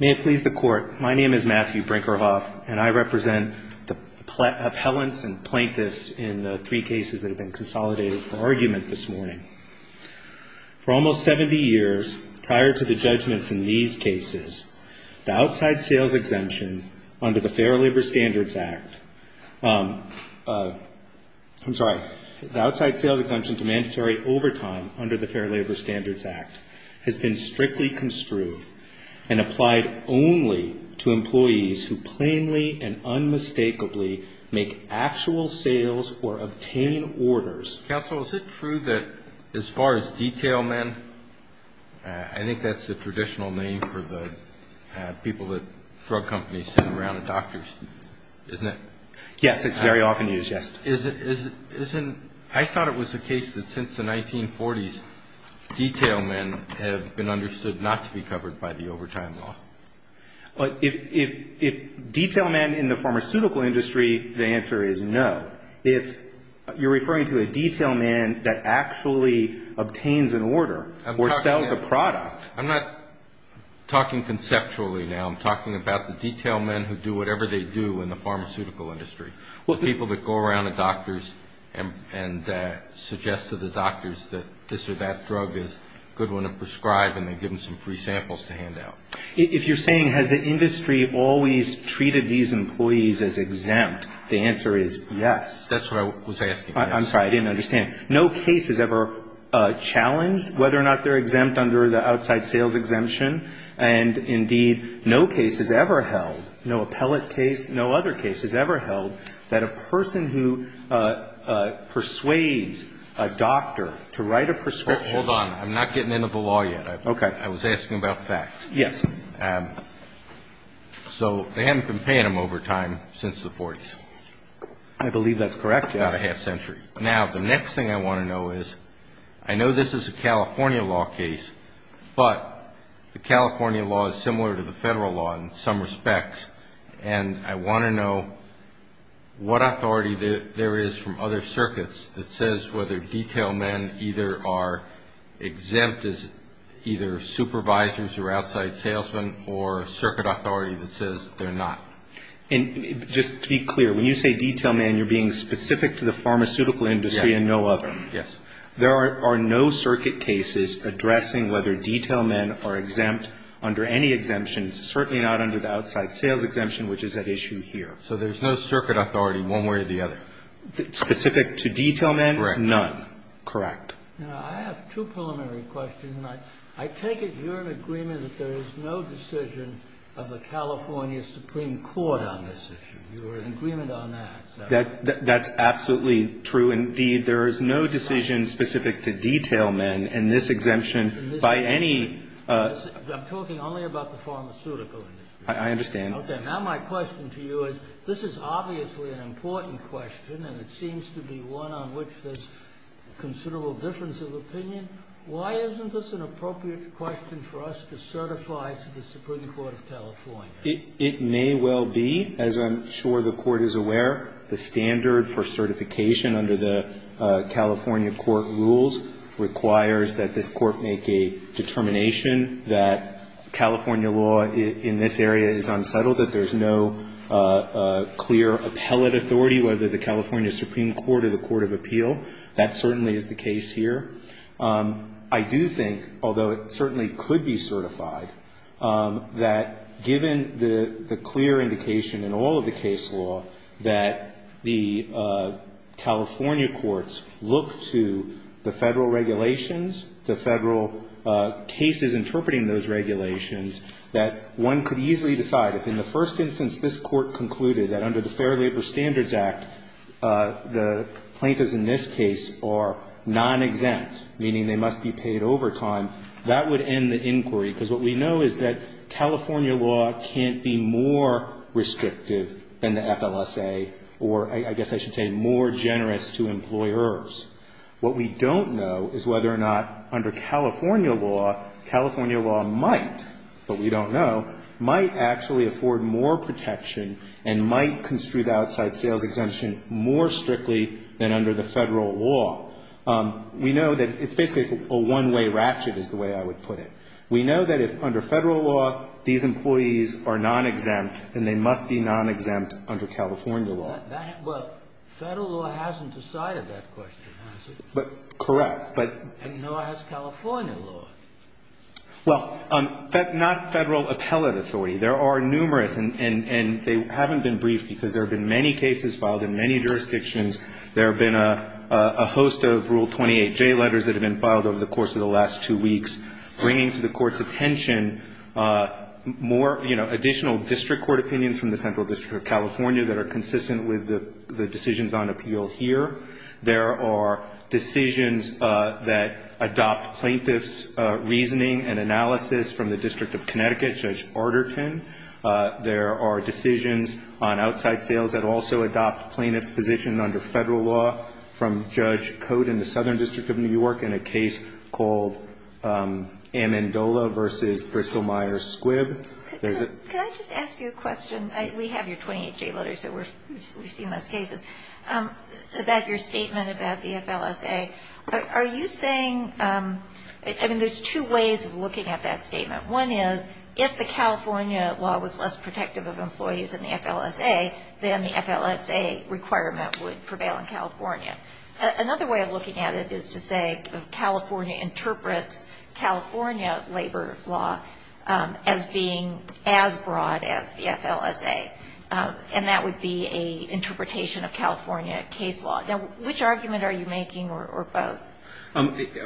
May it please the Court, my name is Matthew Brinkerhoff, and I represent the appellants and plaintiffs in the three cases that have been consolidated for argument this morning. For almost 70 years, prior to the judgments in these cases, the outside sales exemption under the Fair Labor Standards Act I'm sorry, the outside sales exemption to mandatory overtime under the Fair Labor Standards Act has been strictly construed and applied only to employees who plainly and unmistakably make actual sales or obtain orders. Counsel, is it true that as far as detail men, I think that's the traditional name for the people that drug companies send around to doctors, isn't it? Yes, it's very often used, yes. I thought it was the case that since the 1940s, detail men have been understood not to be covered by the overtime law. If detail men in the pharmaceutical industry, the answer is no. If you're referring to a detail man that actually obtains an order or sells a product I'm not talking conceptually now, I'm talking about the detail men who do whatever they do in the pharmaceutical industry. The people that go around to doctors and suggest to the doctors that this or that drug is a good one to prescribe and they give them some free samples to hand out. If you're saying has the industry always treated these employees as exempt, the answer is yes. That's what I was asking, yes. I'm sorry, I didn't understand. No case has ever challenged whether or not they're exempt under the outside sales exemption and indeed no case has ever held, no appellate case, no other case has ever held, that a person who persuades a doctor to write a prescription Hold on, I'm not getting into the law yet. Okay. I was asking about facts. Yes. So they haven't been paying them overtime since the 40s. I believe that's correct, yes. About a half century. Now the next thing I want to know is, I know this is a California law case, but the California law is similar to the Federal law in some respects and I want to know what authority there is from other circuits that says whether detail men either are exempt as either supervisors or outside salesmen or circuit authority that says they're not. And just to be clear, when you say detail men, you're being specific to the pharmaceutical industry and no other. Yes. There are no circuit cases addressing whether detail men are exempt under any exemptions, certainly not under the outside sales exemption, which is at issue here. So there's no circuit authority one way or the other. Specific to detail men? Correct. Correct. Now, I have two preliminary questions. I take it you're in agreement that there is no decision of the California Supreme Court on this issue. You are in agreement on that. That's absolutely true, indeed. There is no decision specific to detail men in this exemption by any. I'm talking only about the pharmaceutical industry. I understand. Okay. Now my question to you is, this is obviously an important question and it seems to be one on which there's considerable difference of opinion. Why isn't this an appropriate question for us to certify to the Supreme Court of California? It may well be. As I'm sure the Court is aware, the standard for certification under the California Court rules requires that this Court make a determination that California law in this area is unsettled, that there's no clear appellate authority, whether the California Supreme Court or the Court of Appeal. That certainly is the case here. I do think, although it certainly could be certified, that given the clear indication in all of the case law that the California courts look to the Federal regulations, the Federal cases interpreting those regulations, that one could easily decide if in the first instance this Court concluded that under the Fair Labor Standards Act the plaintiffs in this case are non-exempt, meaning they must be paid overtime, that would end the inquiry. Because what we know is that California law can't be more restrictive than the FLSA, or I guess I should say more generous to employers. What we don't know is whether or not under California law, California law might, but we don't know, might actually afford more protection and might construe the outside sales exemption more strictly than under the Federal law. We know that it's basically a one-way ratchet is the way I would put it. We know that if under Federal law these employees are non-exempt, then they must be non-exempt under California law. Well, Federal law hasn't decided that question, has it? Correct. And nor has California law. Well, not Federal appellate authority. There are numerous, and they haven't been briefed because there have been many cases filed in many jurisdictions. There have been a host of Rule 28J letters that have been filed over the course of the last two weeks bringing to the Court's attention more, you know, additional district court opinions from the Central District of California that are consistent with the decisions on appeal here. There are decisions that adopt plaintiff's reasoning and analysis from the District of Connecticut, Judge Arterton. There are decisions on outside sales that also adopt plaintiff's position under Federal law from Judge Cote in the Southern District of New York in a case called Amendola v. Bristol-Myers Squibb. Could I just ask you a question? We have your 28J letters, so we've seen those cases. About your statement about the FLSA, are you saying, I mean, there's two ways of looking at that statement. One is if the California law was less protective of employees in the FLSA, then the FLSA requirement would prevail in California. Another way of looking at it is to say California interprets California labor law as being as broad as the FLSA, and that would be an interpretation of California case law. Now, which argument are you making, or both?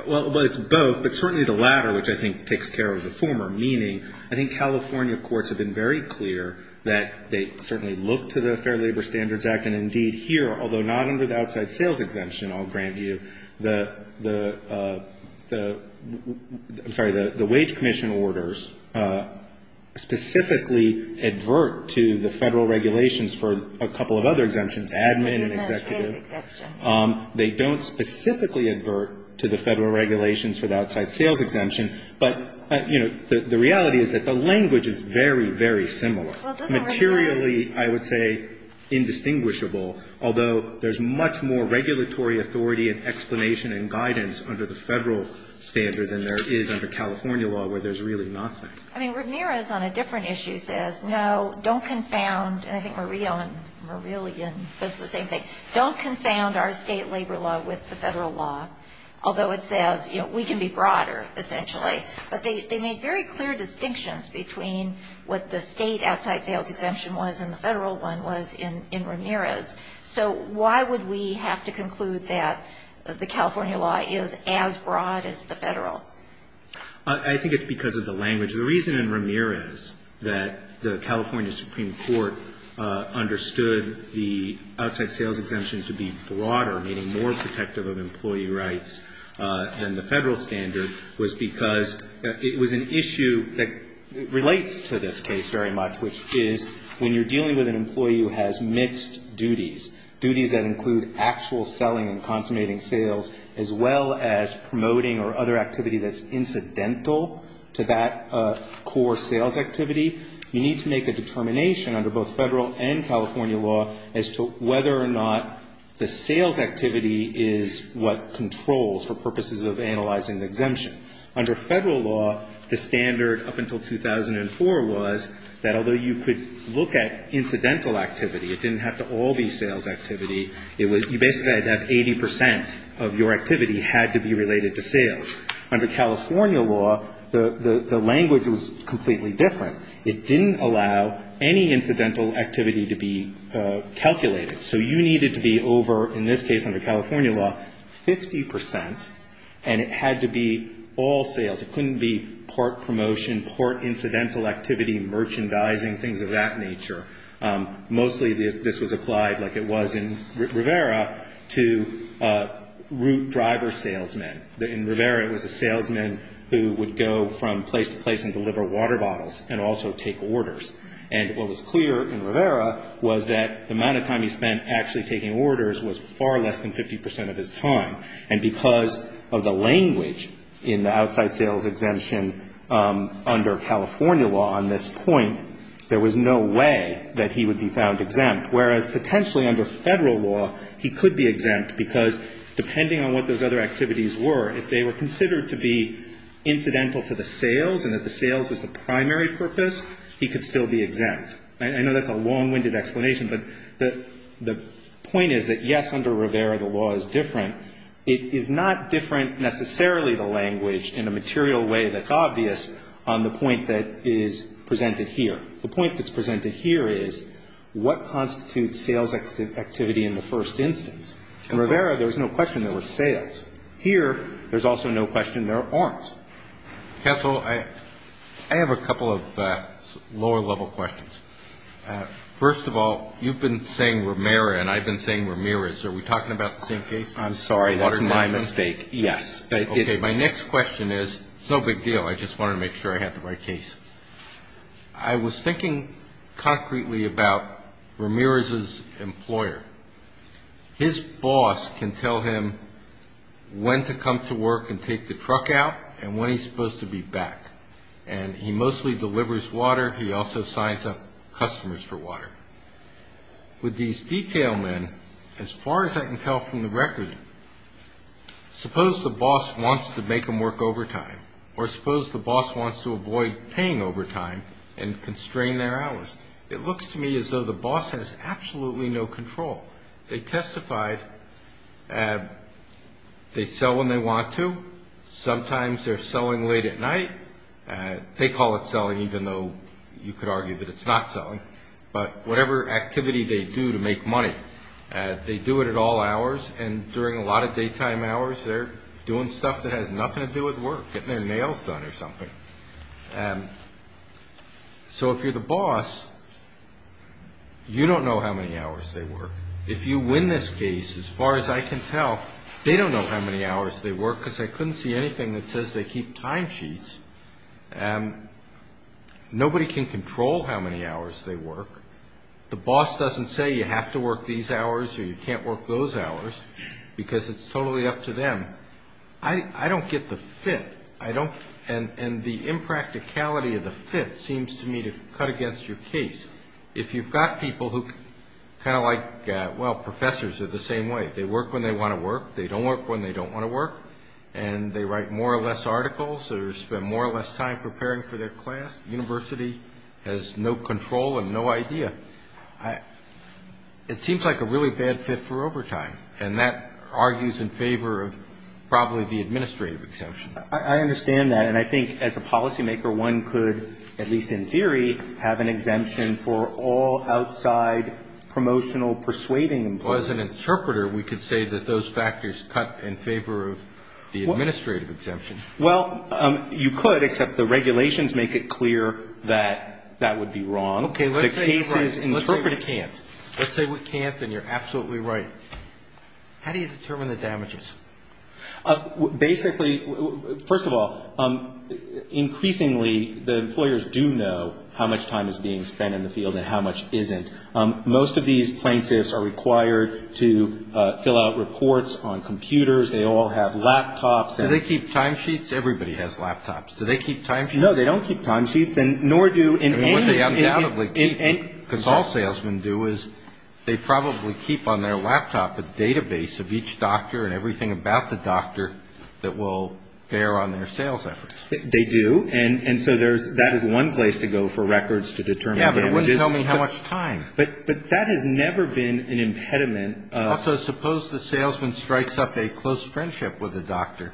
Well, it's both, but certainly the latter, which I think takes care of the former, meaning I think California courts have been very clear that they certainly look to the Fair Labor Standards Act, and indeed here, although not under the outside sales exemption, I'll grant you, the, I'm sorry, the wage commission orders specifically advert to the Federal regulations for a couple of other exemptions, admin, executive. Administrative exemption. They don't specifically advert to the Federal regulations for the outside sales exemption, but, you know, the reality is that the language is very, very similar. Materially, I would say indistinguishable, although there's much more regulatory authority and explanation and guidance under the Federal standard than there is under California law where there's really nothing. I mean, Ramirez on a different issue says, no, don't confound, and I think Murillo and Murillian does the same thing, don't confound our State labor law with the Federal law, although it says, you know, we can be broader, essentially. But they made very clear distinctions between what the State outside sales exemption was and the Federal one was in Ramirez. So why would we have to conclude that the California law is as broad as the Federal? I think it's because of the language. The reason in Ramirez that the California Supreme Court understood the outside sales exemption to be broader, meaning more protective of employee rights than the Federal standard was because it was an issue that relates to this case very much, which is when you're dealing with an employee who has mixed duties, duties that include actual selling and consummating sales, as well as promoting or other activity that's incidental to that core sales activity, you need to make a determination under both Federal and California law as to whether or not the sales activity Under Federal law, the standard up until 2004 was that although you could look at incidental activity, it didn't have to all be sales activity, it was you basically had to have 80 percent of your activity had to be related to sales. Under California law, the language was completely different. It didn't allow any incidental activity to be calculated. So you needed to be over, in this case under California law, 50 percent, and it had to be all sales. It couldn't be part promotion, part incidental activity, merchandising, things of that nature. Mostly this was applied like it was in Rivera to route driver salesmen. In Rivera it was a salesman who would go from place to place and deliver water bottles and also take orders. And what was clear in Rivera was that the amount of time he spent actually taking orders was far less than 50 percent of his time. And because of the language in the outside sales exemption under California law on this point, there was no way that he would be found exempt, whereas potentially under Federal law he could be exempt because depending on what those other activities were, if they were considered to be incidental to the sales and that the sales was the primary purpose, he could still be exempt. I know that's a long-winded explanation, but the point is that, yes, under Rivera the law is different. It is not different necessarily the language in a material way that's obvious on the point that is presented here. The point that's presented here is what constitutes sales activity in the first instance. In Rivera there was no question there was sales. Here there's also no question there aren't. Counsel, I have a couple of lower-level questions. First of all, you've been saying Rivera and I've been saying Ramirez. Are we talking about the same case? I'm sorry. That's my mistake. Yes. Okay. My next question is, it's no big deal. I just wanted to make sure I had the right case. I was thinking concretely about Ramirez's employer. His boss can tell him when to come to work and take the truck out and when he's supposed to be back. And he mostly delivers water. He also signs up customers for water. With these detail men, as far as I can tell from the record, suppose the boss wants to make him work overtime or suppose the boss wants to avoid paying overtime and constrain their hours. It looks to me as though the boss has absolutely no control. They testified they sell when they want to. Sometimes they're selling late at night. They call it selling even though you could argue that it's not selling. But whatever activity they do to make money, they do it at all hours. And during a lot of daytime hours they're doing stuff that has nothing to do with work, getting their nails done or something. So if you're the boss, you don't know how many hours they work. If you win this case, as far as I can tell, they don't know how many hours they work because I couldn't see anything that says they keep time sheets. Nobody can control how many hours they work. The boss doesn't say you have to work these hours or you can't work those hours because it's totally up to you. And the impracticality of the fit seems to me to cut against your case. If you've got people who kind of like, well, professors are the same way. They work when they want to work. They don't work when they don't want to work. And they write more or less articles. They spend more or less time preparing for their class. The university has no control and no idea. It seems like a really bad fit for a policymaker. One could, at least in theory, have an exemption for all outside promotional persuading employees. Well, as an interpreter, we could say that those factors cut in favor of the administrative exemption. Well, you could, except the regulations make it clear that that would be wrong. Let's say we can't and you're absolutely right. How do you determine the damages? Basically, first of all, increasingly the employers do know how much time is being spent in the field and how much isn't. Most of these plaintiffs are required to fill out reports on computers. They all have laptops. Do they keep timesheets? Everybody has laptops. Do they keep timesheets? No, they don't keep timesheets. And what they undoubtedly keep, because all salesmen do, is they probably keep on their laptop a database of each doctor and everything about the doctor that will bear on their sales efforts. They do. And so that is one place to go for records to determine damages. But that has never been an impediment. Also, suppose the salesman strikes up a close friendship with a doctor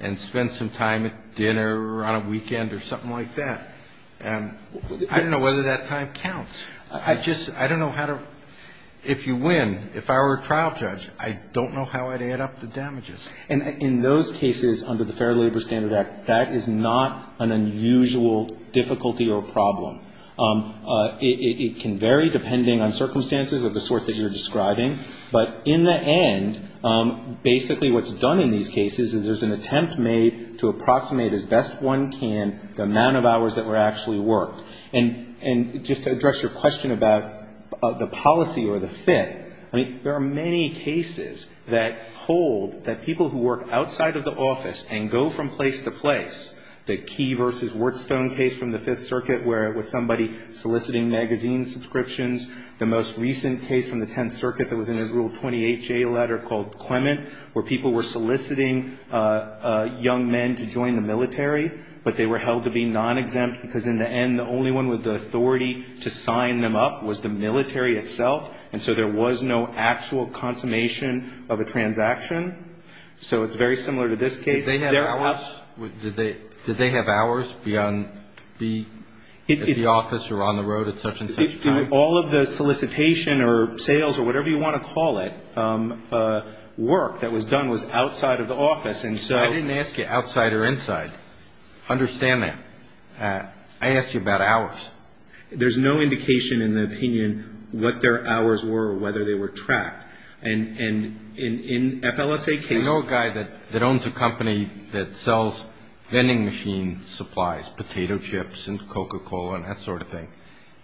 and spends some time at dinner or on a weekend or something like that. I don't know whether that time counts. I just, I don't know how to, if you win, if I were a trial judge, I don't know how I'd add up the damages. And in those cases under the Fair Labor Standard Act, that is not an unusual difficulty or problem. It can vary depending on circumstances of the sort that you're describing. But in the end, basically what's done in these cases is there's an attempt made to approximate as best one can the amount of hours that were actually worked. And just to address your question about the policy or the fit, I mean, there are many cases that hold that people who work outside of the office and go from place to place, the Key v. Worthstone case from the Fifth Circuit where it was somebody soliciting magazine subscriptions, the most recent case from the Tenth Circuit that was in a Rule 28J letter called Clement, where people were soliciting young men to join the military, but they were held to be non-exempt because in the end the only one with the authority to sign them up was the military itself, and so there was no actual consummation of a transaction. So it's very similar to this case. If they had hours, did they have hours beyond the office or on the road at such and such time? All of the solicitation or sales or whatever you want to call it, work that was done was outside of the office. And so... I didn't ask you outside or inside. Understand that. I asked you about hours. There's no indication in the opinion what their hours were or whether they were tracked. And in FLSA cases... I know a guy that owns a company that sells vending machine supplies, potato chips and Coca-Cola and that sort of thing,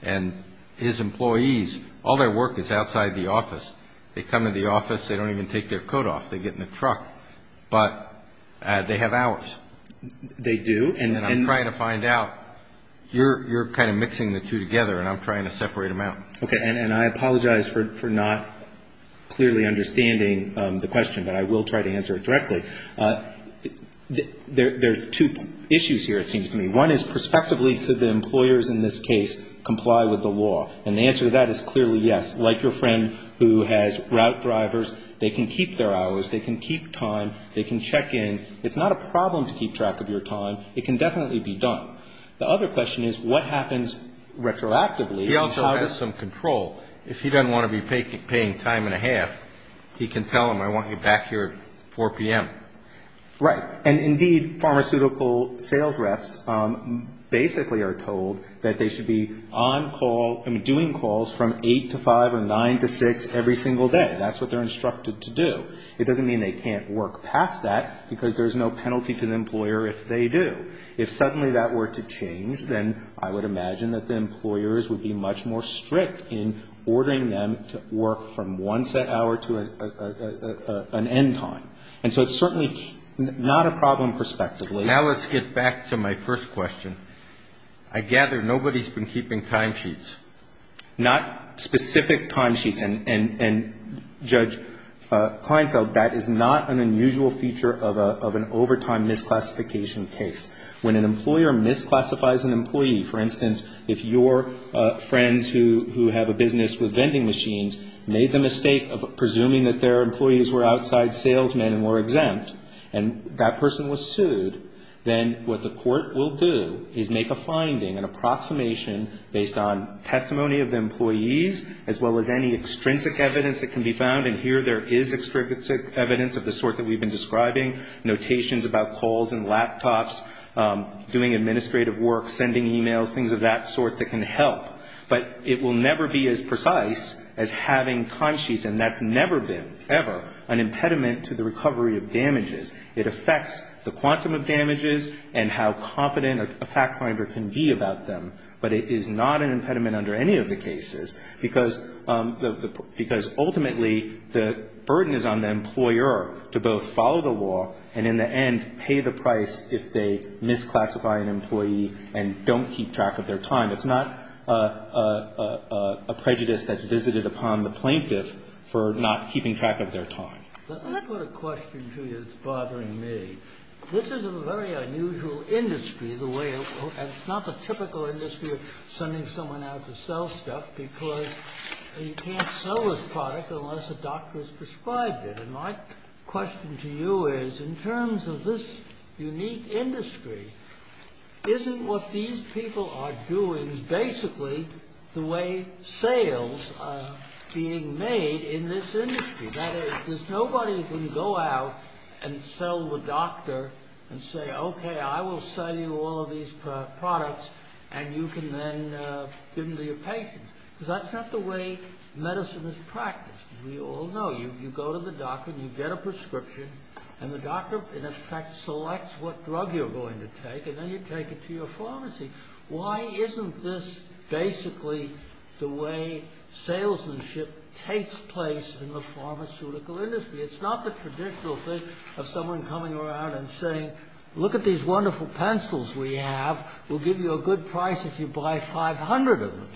and his employees are not, they have hours. They do. And I'm trying to find out. You're kind of mixing the two together, and I'm trying to separate them out. Okay. And I apologize for not clearly understanding the question, but I will try to answer it directly. There's two issues here, it seems to me. One is, prospectively, could the employers in this case comply with the law? And the answer to that is clearly yes. Like your friend who has route drivers, they can keep their hours, they can keep time, they can check in. It's not a problem to keep track of your time. It can definitely be done. The other question is, what happens retroactively? He also has some control. If he doesn't want to be paying time and a half, he can tell them, I want you back here at 4 p.m. Right. And indeed, pharmaceutical sales reps basically are told that they should be on call, I mean, doing calls from 8 to 5 or 9 to 6 every single day. That's what they're instructed to do. It doesn't mean they can't work past that, because there's no penalty to the employer if they do. If suddenly that were to change, then I would imagine that the employers would be much more strict in ordering them to work from one set hour to an end time. And so it's certainly not a problem prospectively. Now let's get back to my first question. I gather nobody's been keeping timesheets. Not specific timesheets. And, Judge Kleinfeld, that is not an unusual feature of an overtime misclassification case. When an employer misclassifies an employee, for instance, if your friends who have a business with vending machines made the mistake of presuming that their employees were outside salesmen and were exempt, and that person was sued, then what the court will do is make a finding, an approximation based on testimony of the employees, as well as any extrinsic evidence that can be found. And here there is extrinsic evidence of the sort that we've been describing, notations about calls and laptops, doing administrative work, sending e-mails, things of that sort that can help. But it will never be as precise as having timesheets. And that's never been, ever, an impediment to the recovery of damages. It affects the quantum of damages and how confident a fact finder can be about them. But it is not an impediment under any of the cases, because ultimately the burden is on the employer to both follow the law and in the end pay the price if they misclassify an employee and don't keep track of their time. It's not a prejudice that's visited upon the plaintiff for not keeping track of their time. Let me put a question to you that's bothering me. This is a very unusual industry, and it's not the typical industry of sending someone out to sell stuff, because you can't sell this product unless a doctor has prescribed it. And my question to you is, in terms of this unique industry, isn't what these people are doing basically the way sales are being made in this industry? That is, there's nobody who can go out and sell the doctor and say, OK, I will sell you all of these products and you can then give them to your patients. Because that's not the way medicine is practiced, as we all know. You go to the doctor, you get a prescription, and the doctor, in effect, selects what drug you're going to take, and then you take it to your pharmacy. Why isn't this basically the way salesmanship takes place in the pharmaceutical industry? It's not the traditional thing of someone coming around and saying, look at these wonderful pencils we have. We'll give you a good price if you buy 500 of them.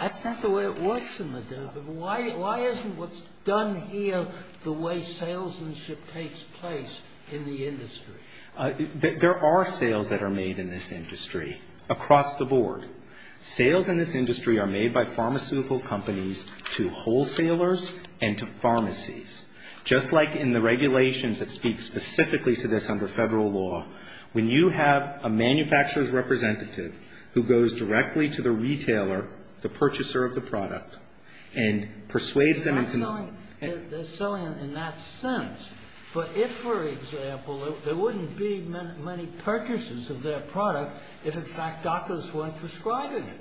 That's not the way it works in the department. Why isn't what's done here the way salesmanship takes place in the industry? There are sales that are made in this industry across the board. Sales in this industry are made by pharmaceutical companies to wholesalers and to pharmacies. Just like in the regulations that speak specifically to this under Federal law, when you have a manufacturer's representative who goes directly to the retailer, the purchaser of the product, and persuades them into selling it, they're selling it in that sense. But if, for example, there wouldn't be many purchases of their product if, in fact, doctors weren't prescribing it.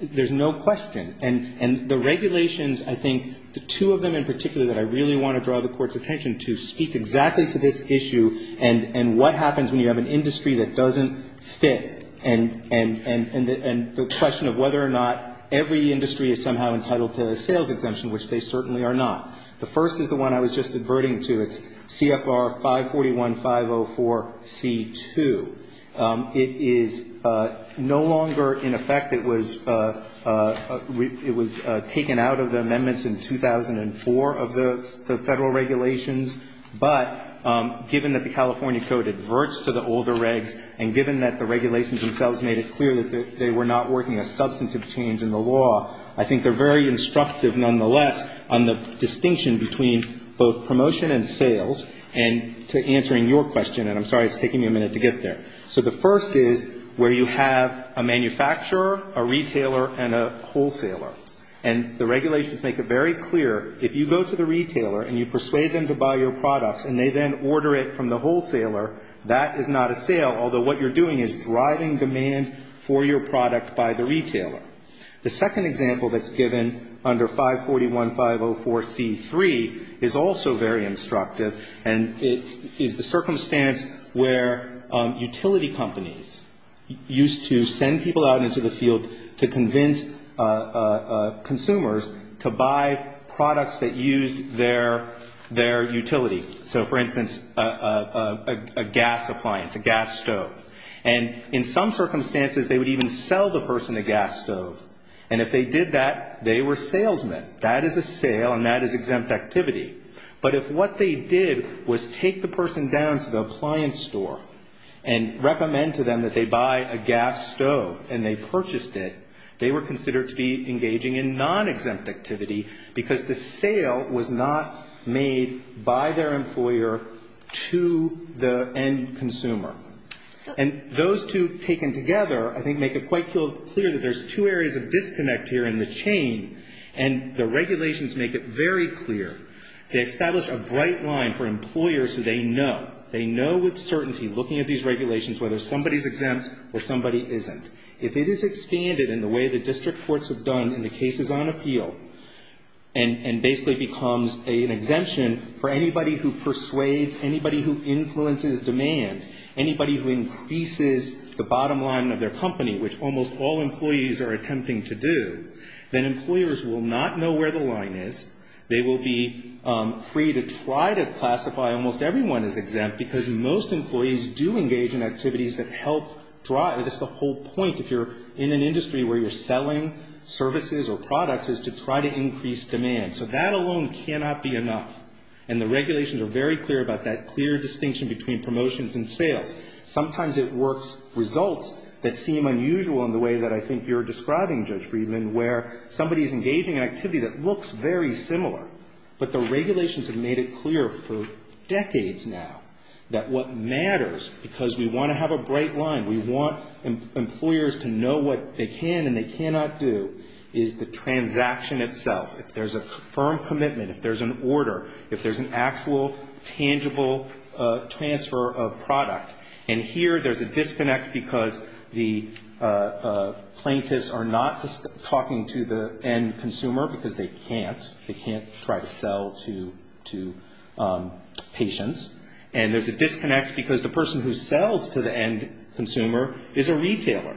There's no question. And the regulations, I think, the two of them in particular that I really want to draw the Court's attention to, speak exactly to this issue and what happens when you have an industry that doesn't fit, and the question of whether or not every industry is somehow entitled to a sales exemption, which they certainly are not. The first is the one I was just adverting to. It's CFR 541-504C2. It is no longer in effect. It was taken out of the amendments in 2004 of the Federal regulations. But given that the California Code adverts to the older regs, and given that the regulations themselves made it clear that they were not working a substantive change in the law, I think they're very instructive, nonetheless, on the distinction between both promotion and sales, and to answering your question. And I'm sorry, it's taking me a minute to get there. So the first is where you have a manufacturer, a retailer, and a wholesaler. And the regulations make it very clear, if you go to the retailer and you persuade them to buy your products and they then order it from the wholesaler, that is not a sale, although what you're doing is driving demand for your product by the retailer. The second example that's given under 541-504C3 is also very instructive, and it is the circumstance where utility companies used to send people out into the field to convince consumers to buy products that used their utility. So, for instance, a gas appliance, a gas stove. And in some circumstances, they would even sell the person a gas stove. And if they did that, they were salesmen. That is a sale and that is exempt activity. But if what they did was take the person down to the appliance store and recommend to them that they buy a gas stove and they purchased it, they were considered to be engaging in non-exempt activity, because the sale was not made by their employer to the end consumer. And those two taken together, I think, make it quite clear that there's two areas of disconnect here in the chain. And the regulations make it very clear. They establish a bright line for employers so they know. They know with certainty, looking at these regulations, whether somebody's exempt or somebody isn't. If it is expanded in the way the district courts have done in the cases on appeal and basically becomes an exemption for anybody who persuades, anybody who influences demand, anybody who increases the bottom line of their company, employers will not know where the line is. They will be free to try to classify almost everyone as exempt, because most employees do engage in activities that help drive just the whole point. If you're in an industry where you're selling services or products, is to try to increase demand. So that alone cannot be enough. And the regulations are very clear about that clear distinction between promotions and sales. Sometimes it works results that seem unusual in the way that I think you're describing, Judge Friedman, where somebody's engaging in activity that looks very similar. But the regulations have made it clear for decades now that what matters, because we want to have a bright line, we want employers to know what they can and they cannot do, is the transaction itself. If there's a firm commitment, if there's an order, if there's an actual, tangible transfer of product. And here there's a disconnect because the plaintiffs are not talking to the end consumer because they can't. They can't try to sell to patients. And there's a disconnect because the person who sells to the end consumer is a retailer.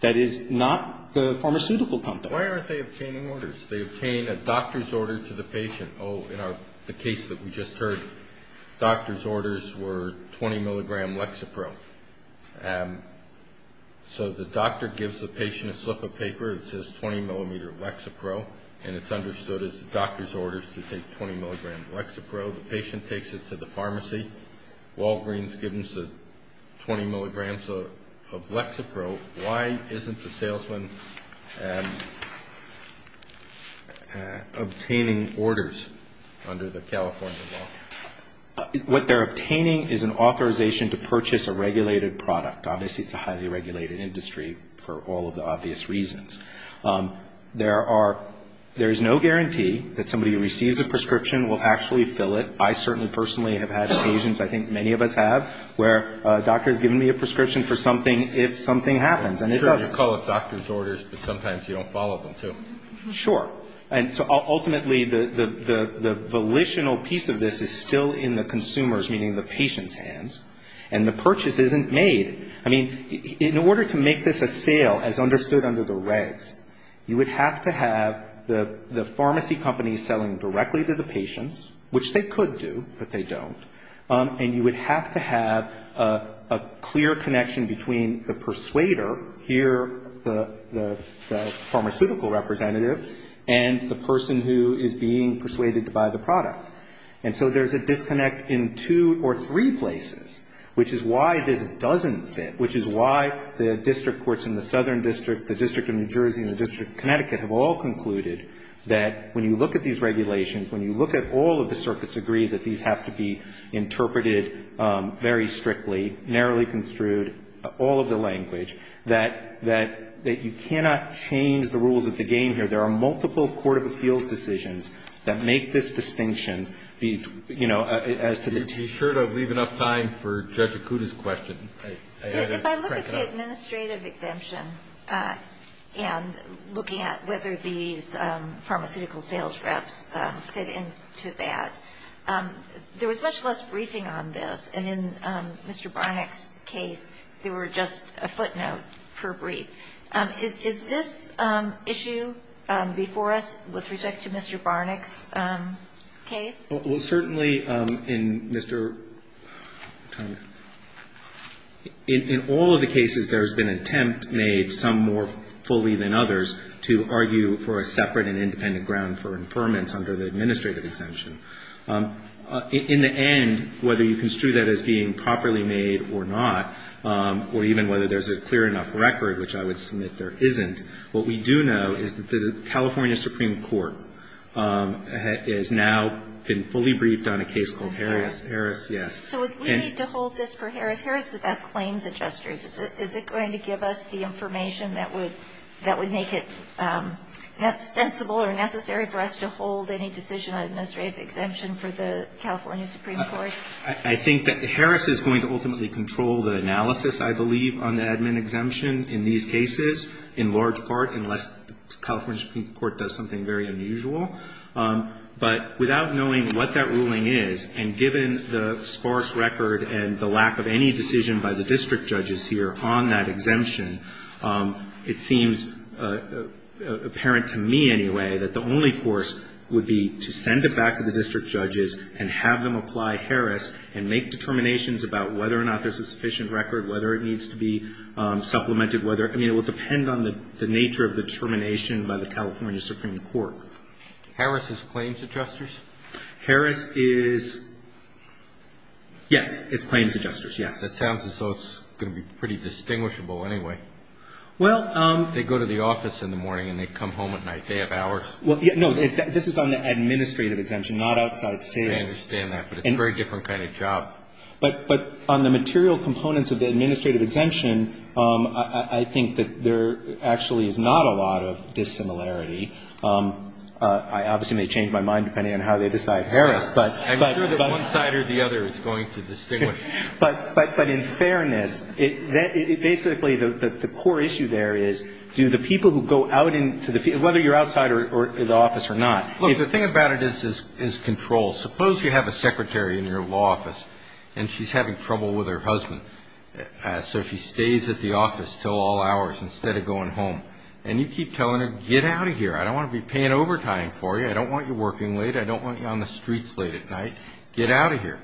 That is not the pharmaceutical company. Why aren't they obtaining orders? They obtain a doctor's order to the patient. Oh, in the case that we just heard, doctor's orders were 20 milligram Lexapro. So the doctor gives the patient a slip of paper. It says 20 millimeter Lexapro. And it's understood as the doctor's orders to take 20 milligram Lexapro. The patient takes it to the pharmacy. Walgreens gives them 20 milligrams of Lexapro. Why isn't the salesman obtaining orders under the California law? What they're obtaining is an authorization to purchase a regulated product. Obviously it's a highly regulated industry for all of the obvious reasons. There are no guarantee that somebody who receives a prescription will actually fill it. I certainly personally have had occasions, I think many of us have, where a doctor has given me a prescription for something if something happens. And it does. Sure. And so ultimately the volitional piece of this is still in the consumer's, meaning the patient's, hands. And the purchase isn't made. The purchase isn't made. The purchase isn't made. The purchase isn't made. The purchase isn't made. And so there's a disconnect in two or three places, which is why this doesn't fit, which is why the district courts in the Southern District, the District of New Jersey, and the District of Connecticut have all concluded that when you look at these regulations, when you look at all of the circuits agreed that these have to be interpreted very strictly, narrowly construed, all of the language, that you cannot change the rules of the game here. There are multiple court of appeals decisions that make this distinction. Be sure to leave enough time for Judge Acuda's question. If I look at the administrative exemption and looking at whether these pharmaceutical sales reps fit into that, there was much less briefing on this. And in Mr. Barnack's case, there were just a footnote per brief. Is this issue before us with respect to Mr. Barnack's case? Well, certainly in Mr. Tong, in all of the cases there has been an attempt made, some more fully than others, to argue for a separate and independent ground for impairments under the administrative exemption. In the end, whether you construe that as being properly made or not, or even whether there's a clear enough record, which I would submit there isn't, what we do know is that the California Supreme Court has now been fully briefed on a case called Harris. Harris, yes. So would we need to hold this for Harris? Harris is about claims adjusters. Is it going to give us the information that would make it sensible or necessary for us to hold any decision on administrative exemption for the California Supreme Court? I think that Harris is going to ultimately control the analysis, I believe, on the admin exemption in these cases, in large part unless the California Supreme Court does something very unusual. But without knowing what that ruling is, and given the sparse record and the lack of any decision by the district judges here on that exemption, it seems apparent to me anyway that the only course would be to send it back to the district judges and have them apply Harris and make determinations about whether or not there's a sufficient record, whether it needs to be supplemented, whether – I mean, it would depend on the nature of the termination by the California Supreme Court. Harris is claims adjusters? Harris is – yes, it's claims adjusters, yes. That sounds as though it's going to be pretty distinguishable anyway. Well – They go to the office in the morning and they come home at night. They have hours. Well, no, this is on the administrative exemption, not outside sales. I understand that, but it's a very different kind of job. But on the material components of the administrative exemption, I think that there actually is not a lot of dissimilarity. I obviously may change my mind depending on how they decide Harris, but – I'm sure that one side or the other is going to distinguish. But in fairness, it – basically, the core issue there is do the people who go out into the – whether you're outside the office or not – Look, the thing about it is control. Suppose you have a secretary in your law office and she's having trouble with her husband. So she stays at the office until all hours instead of going home. And you keep telling her, get out of here. I don't want to be paying overtime for you. I don't want you working late. I don't want you on the streets late at night. Get out of here.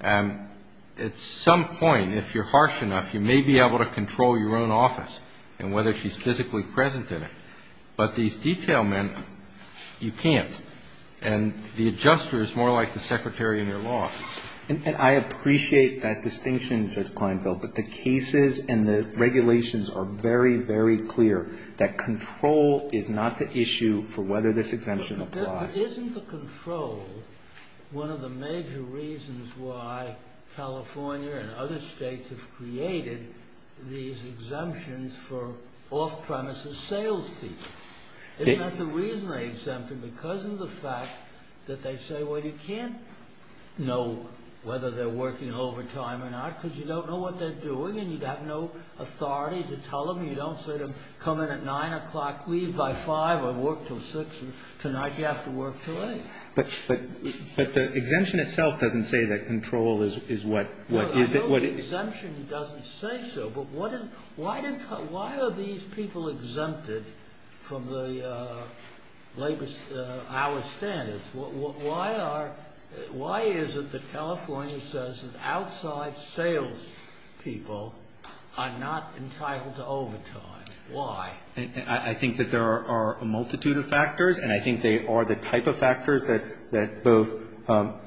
At some point, if you're harsh enough, you may be able to control your own office and whether she's physically present in it. But these detail men, you can't. And the adjuster is more like the secretary in your law office. And I appreciate that distinction, Judge Klinefeld, but the cases and the regulations are very, very clear that control is not the issue for whether this exemption applies. But isn't the control one of the major reasons why California and other States have created these exemptions for off-premises sales people? It meant the reason they exempted because of the fact that they say, well, you can't know whether they're working overtime or not because you don't know what they're doing and you have no authority to tell them. You don't say to them, come in at 9 o'clock, leave by 5, or work till 6. Tonight you have to work till 8. But the exemption itself doesn't say that control is what – I know the exemption doesn't say so, but why are these people exempted from the labor hour standards? Why is it that California says that outside sales people are not entitled to overtime? Why? I think that there are a multitude of factors, and I think they are the type of factors that both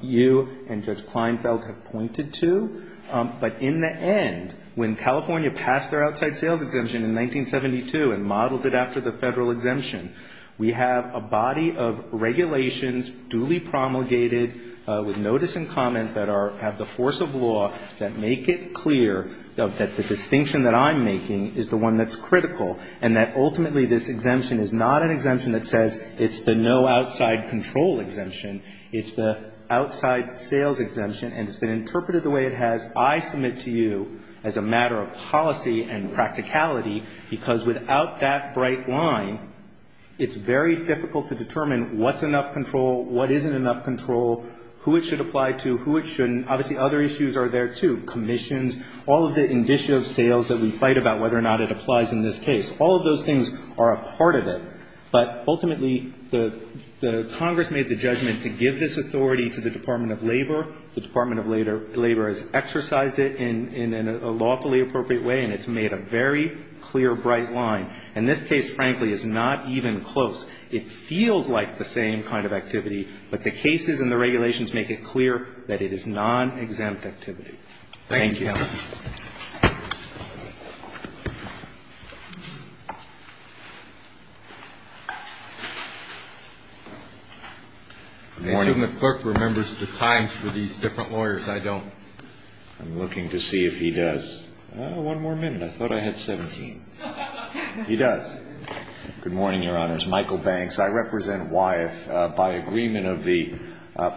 you and Judge Kleinfeld have pointed to. But in the end, when California passed their outside sales exemption in 1972 and modeled it after the Federal exemption, we have a body of regulations duly promulgated with notice and comment that have the force of law that make it clear that the distinction that I'm making is the one that's critical and that ultimately this exemption is not an exemption that says it's the no outside control exemption. It's the outside sales exemption, and it's been interpreted the way it has, I submit to you as a matter of policy and practicality, because without that bright line, it's very difficult to determine what's enough control, what isn't enough control, who it should apply to, who it shouldn't. Obviously, other issues are there, too. Commissions, all of the indicative sales that we fight about whether or not it applies in this case. All of those things are a part of it. But ultimately, the Congress made the judgment to give this authority to the Department of Labor. The Department of Labor has exercised it in a lawfully appropriate way, and it's made a very clear, bright line. And this case, frankly, is not even close. It feels like the same kind of activity, but the cases and the regulations make it clear that it is non-exempt activity. Thank you. Good morning. I assume the clerk remembers the times for these different lawyers. I don't. I'm looking to see if he does. One more minute. I thought I had 17. He does. Good morning, Your Honors. Michael Banks. I represent Wyeth. By agreement of the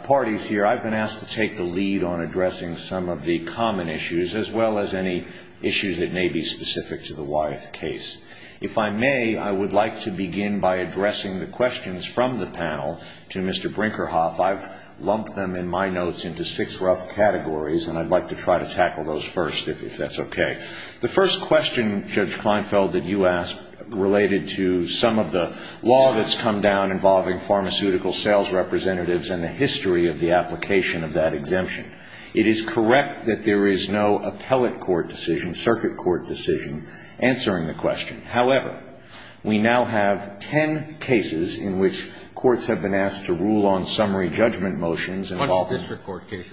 parties here, I've been asked to take the lead on addressing some of the common issues. as well as any issues that may be specific to the Wyeth case. If I may, I would like to begin by addressing the questions from the panel to Mr. Brinkerhoff. I've lumped them in my notes into six rough categories, and I'd like to try to tackle those first, if that's okay. The first question, Judge Kleinfeld, that you asked related to some of the law that's come down involving pharmaceutical sales representatives and the history of the application of that exemption. It is correct that there is no appellate court decision, circuit court decision, answering the question. However, we now have ten cases in which courts have been asked to rule on summary judgment motions involving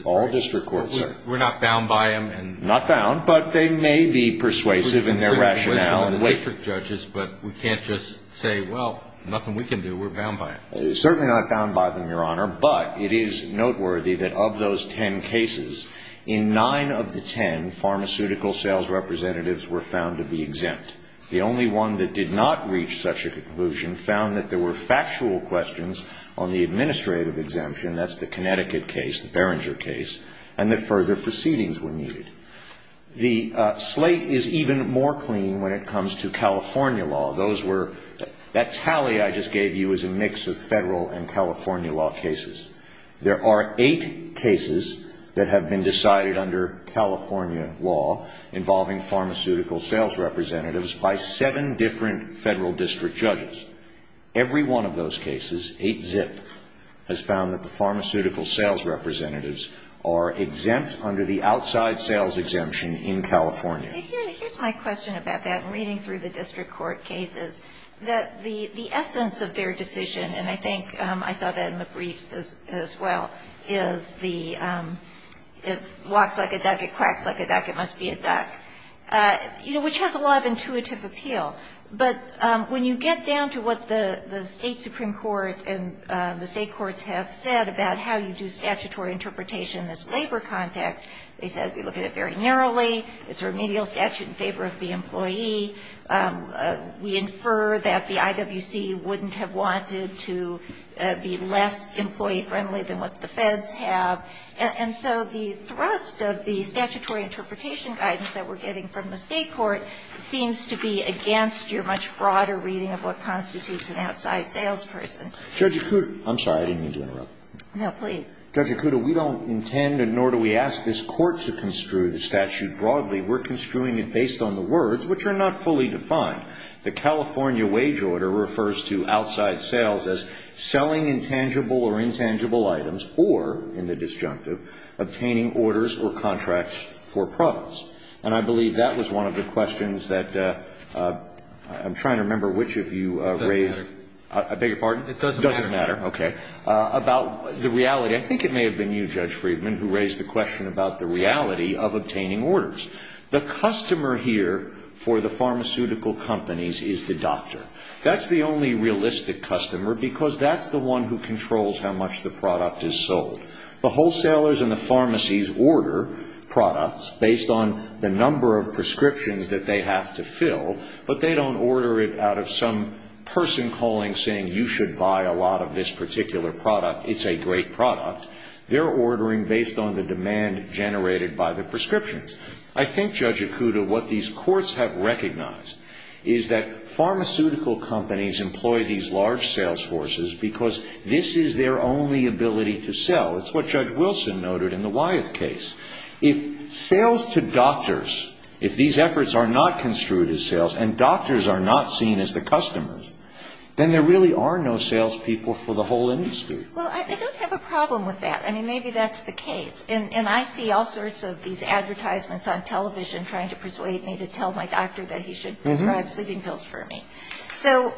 all district courts. We're not bound by them. Not bound, but they may be persuasive in their rationale. We can't just say, well, nothing we can do. We're bound by it. Certainly not bound by them, Your Honor, but it is noteworthy that of those ten cases, in nine of the ten, pharmaceutical sales representatives were found to be exempt. The only one that did not reach such a conclusion found that there were factual questions on the administrative exemption. That's the Connecticut case, the Berenger case, and that further proceedings were needed. The slate is even more clean when it comes to California law. That tally I just gave you is a mix of Federal and California law cases. There are eight cases that have been decided under California law involving pharmaceutical sales representatives by seven different Federal district judges. Every one of those cases, eight zip, has found that the pharmaceutical sales representatives are exempt under the outside sales exemption in California. Here's my question about that, reading through the district court cases, that the essence of their decision, and I think I saw that in the briefs as well, is the it walks like a duck, it quacks like a duck, it must be a duck, you know, which has a lot of intuitive appeal. But when you get down to what the State Supreme Court and the State courts have said about how you do statutory interpretation in this labor context, they said we look at it very narrowly. It's remedial statute in favor of the employee. We infer that the IWC wouldn't have wanted to be less employee-friendly than what the Feds have. And so the thrust of the statutory interpretation guidance that we're getting from the State court seems to be against your much broader reading of what constitutes an outside salesperson. I'm sorry. I didn't mean to interrupt. No, please. Judge Acuto, we don't intend, nor do we ask this Court to construe the statute broadly. We're construing it based on the words, which are not fully defined. The California wage order refers to outside sales as selling intangible or intangible items or, in the disjunctive, obtaining orders or contracts for products. And I believe that was one of the questions that I'm trying to remember which of you I beg your pardon? It doesn't matter. It doesn't matter. Okay. About the reality, I think it may have been you, Judge Friedman, who raised the question about the reality of obtaining orders. The customer here for the pharmaceutical companies is the doctor. That's the only realistic customer because that's the one who controls how much the product is sold. The wholesalers and the pharmacies order products based on the number of prescriptions that they have to fill, but they don't order it out of some person calling saying you should buy a lot of this particular product. It's a great product. They're ordering based on the demand generated by the prescriptions. I think, Judge Ikuda, what these courts have recognized is that pharmaceutical companies employ these large sales forces because this is their only ability to sell. It's what Judge Wilson noted in the Wyeth case. If sales to doctors, if these efforts are not construed as sales and doctors are not seen as the customers, then there really are no sales people for the whole industry. Well, I don't have a problem with that. I mean, maybe that's the case. And I see all sorts of these advertisements on television trying to persuade me to tell my doctor that he should prescribe sleeping pills for me. So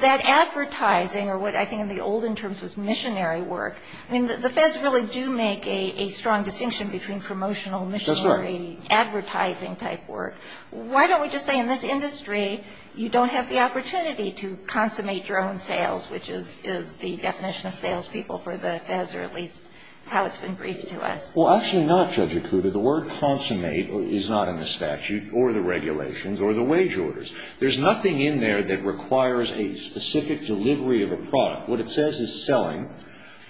that advertising or what I think in the olden terms was missionary work, I mean, the feds really do make a strong distinction between promotional missionary advertising type work. Why don't we just say in this industry you don't have the opportunity to consummate your own sales, which is the definition of sales people for the feds or at least how it's been briefed to us. Well, actually not, Judge Ikuda. The word consummate is not in the statute or the regulations or the wage orders. There's nothing in there that requires a specific delivery of a product. What it says is selling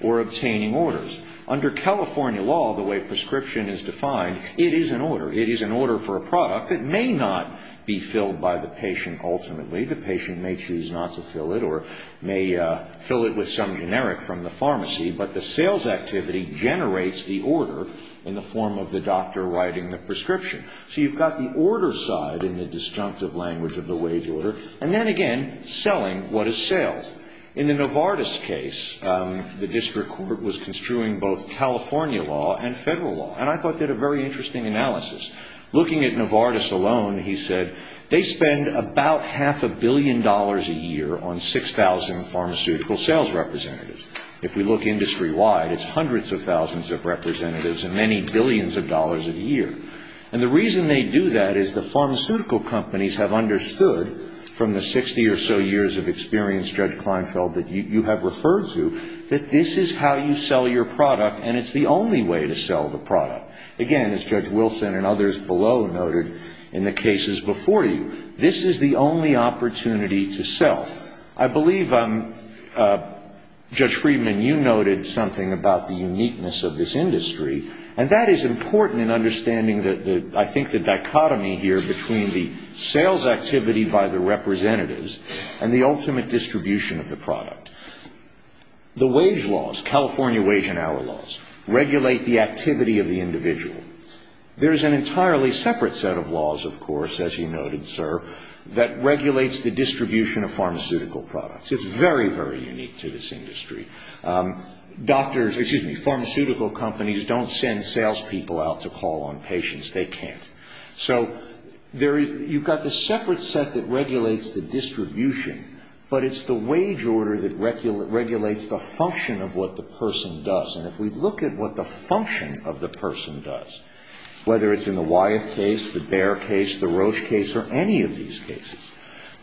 or obtaining orders. Under California law, the way prescription is defined, it is an order. It is an order for a product. It may not be filled by the patient ultimately. The patient may choose not to fill it or may fill it with some generic from the pharmacy, but the sales activity generates the order in the form of the doctor writing the prescription. So you've got the order side in the disjunctive language of the wage order and then, again, selling what is sales. In the Novartis case, the district court was construing both California law and federal law. And I thought they had a very interesting analysis. Looking at Novartis alone, he said they spend about half a billion dollars a year on 6,000 pharmaceutical sales representatives. If we look industry-wide, it's hundreds of thousands of representatives and many billions of dollars a year. And the reason they do that is the pharmaceutical companies have understood from the 60 or so years of experience, Judge Kleinfeld, that you have referred to that this is how you sell your product and it's the only way to sell the product. Again, as Judge Wilson and others below noted in the cases before you, this is the only opportunity to sell. I believe, Judge Friedman, you noted something about the uniqueness of this industry. And that is important in understanding, I think, the dichotomy here between the sales activity by the representatives and the ultimate distribution of the product. The wage laws, California wage and hour laws, regulate the activity of the individual. There is an entirely separate set of laws, of course, as you noted, sir, that regulates the distribution of pharmaceutical products. It's very, very unique to this industry. Doctors, excuse me, pharmaceutical companies don't send salespeople out to call on patients. They can't. So you've got the separate set that regulates the distribution, but it's the one that regulates the function of what the person does. And if we look at what the function of the person does, whether it's in the Wyeth case, the Baer case, the Roche case, or any of these cases,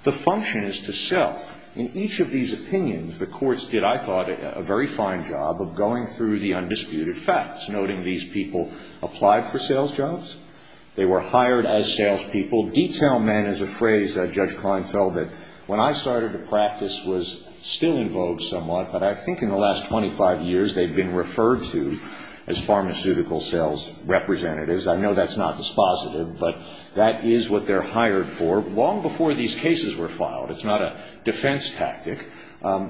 the function is to sell. In each of these opinions, the courts did, I thought, a very fine job of going through the undisputed facts, noting these people applied for sales jobs. They were hired as salespeople. Detail men is a phrase, Judge Kleinfeld, that when I started to practice was still in vogue somewhat, but I think in the last 25 years they've been referred to as pharmaceutical sales representatives. I know that's not dispositive, but that is what they're hired for. Long before these cases were filed. It's not a defense tactic.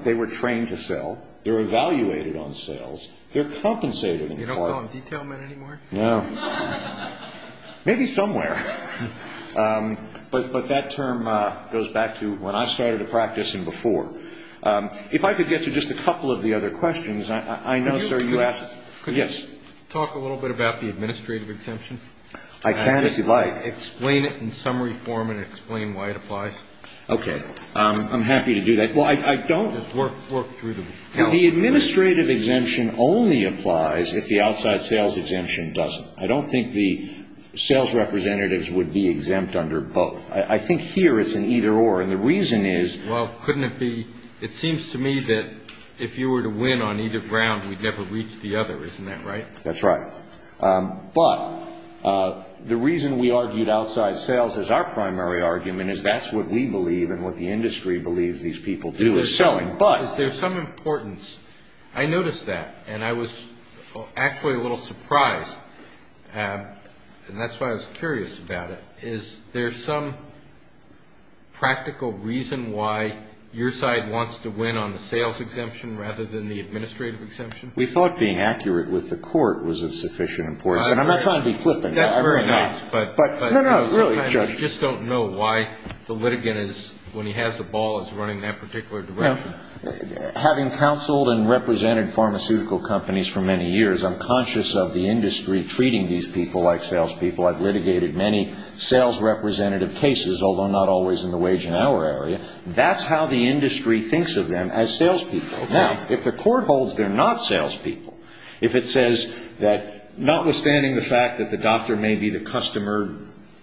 They were trained to sell. They were evaluated on sales. They're compensated in part. You don't call them detail men anymore? No. Maybe somewhere. But that term goes back to when I started to practice and before. If I could get to just a couple of the other questions. I know, sir, you asked. Yes. Could you talk a little bit about the administrative exemption? I can, if you'd like. Explain it in summary form and explain why it applies. Okay. I'm happy to do that. Well, I don't. Just work through the health of it. The administrative exemption only applies if the outside sales exemption doesn't. I don't think the sales representatives would be exempt under both. I think here it's an either or. And the reason is. Well, couldn't it be. It seems to me that if you were to win on either ground, we'd never reach the other. Isn't that right? That's right. But the reason we argued outside sales as our primary argument is that's what we believe and what the industry believes these people do is selling. But. Is there some importance. I noticed that. And I was actually a little surprised. And that's why I was curious about it. Is there some practical reason why your side wants to win on the sales exemption rather than the administrative exemption? We thought being accurate with the court was of sufficient importance. And I'm not trying to be flippant. That's very nice. But. No, no. Really, Judge. I just don't know why the litigant is, when he has the ball, is running that particular direction. Having counseled and represented pharmaceutical companies for many years, I'm conscious of the industry treating these people like salespeople. I've litigated many sales representative cases, although not always in the wage and hour area. That's how the industry thinks of them as salespeople. Now, if the court holds they're not salespeople, if it says that notwithstanding the fact that the doctor may be the customer,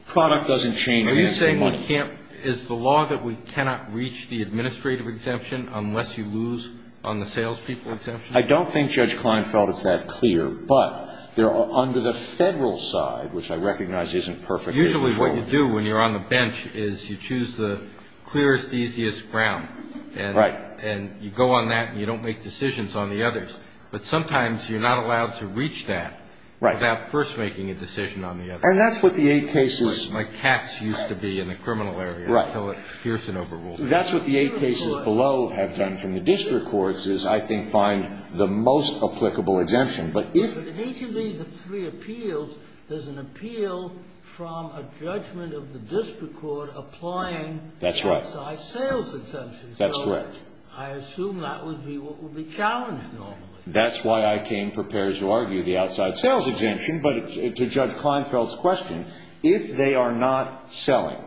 product doesn't change. Are you saying we can't, is the law that we cannot reach the administrative exemption unless you lose on the salespeople exemption? I don't think Judge Klein felt it's that clear. But under the federal side, which I recognize isn't perfectly controlled. Usually what you do when you're on the bench is you choose the clearest, easiest ground. Right. And you go on that and you don't make decisions on the others. But sometimes you're not allowed to reach that. Right. Without first making a decision on the others. And that's what the eight cases. My cats used to be in the criminal area until Pearson overruled it. That's what the eight cases below have done from the district courts is, I think, find the most applicable exemption. But if. But in each of these three appeals, there's an appeal from a judgment of the district court applying. That's right. Outside sales exemption. That's correct. So I assume that would be what would be challenged normally. That's why I came prepared to argue the outside sales exemption. But to Judge Kleinfeld's question, if they are not selling,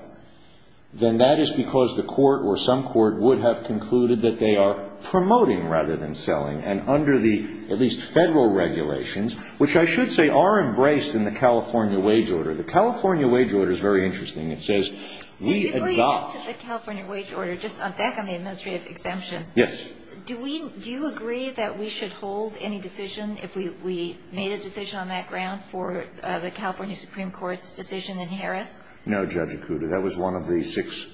then that is because the court or some court would have concluded that they are promoting rather than selling. And under the at least federal regulations, which I should say are embraced in the California wage order. The California wage order is very interesting. It says we adopt. Before you get to the California wage order, just back on the administrative exemption. Yes. Do you agree that we should hold any decision if we made a decision on that ground for the California Supreme Court's decision in Harris? No, Judge Okuda. That was one of the six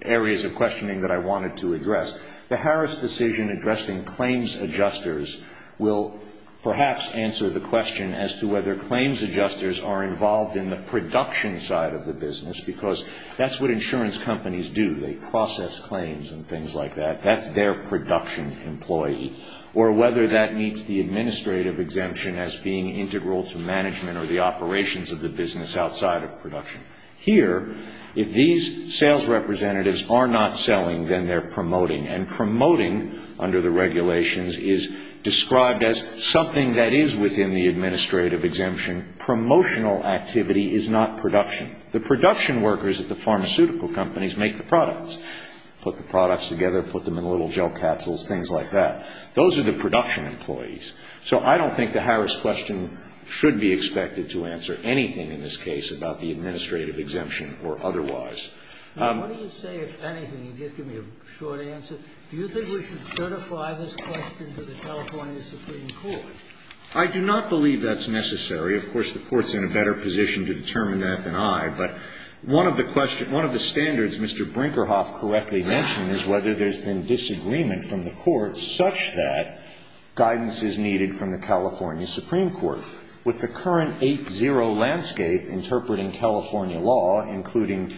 areas of questioning that I wanted to address. The Harris decision addressing claims adjusters will perhaps answer the question as to whether claims adjusters are involved in the production side of the business. Because that's what insurance companies do. They process claims and things like that. That's their production employee. Or whether that meets the administrative exemption as being integral to management or the operations of the business outside of production. Here, if these sales representatives are not selling, then they're promoting. And promoting, under the regulations, is described as something that is within the administrative exemption. Promotional activity is not production. The production workers at the pharmaceutical companies make the products. Put the products together, put them in little gel capsules, things like that. Those are the production employees. So I don't think the Harris question should be expected to answer anything in this case about the administrative exemption or otherwise. What do you say, if anything, just give me a short answer. Do you think we should certify this question to the California Supreme Court? I do not believe that's necessary. Of course, the Court's in a better position to determine that than I. But one of the standards Mr. Brinkerhoff correctly mentioned is whether there's been disagreement from the courts such that guidance is needed from the California Supreme Court. With the current 8-0 landscape interpreting California law, including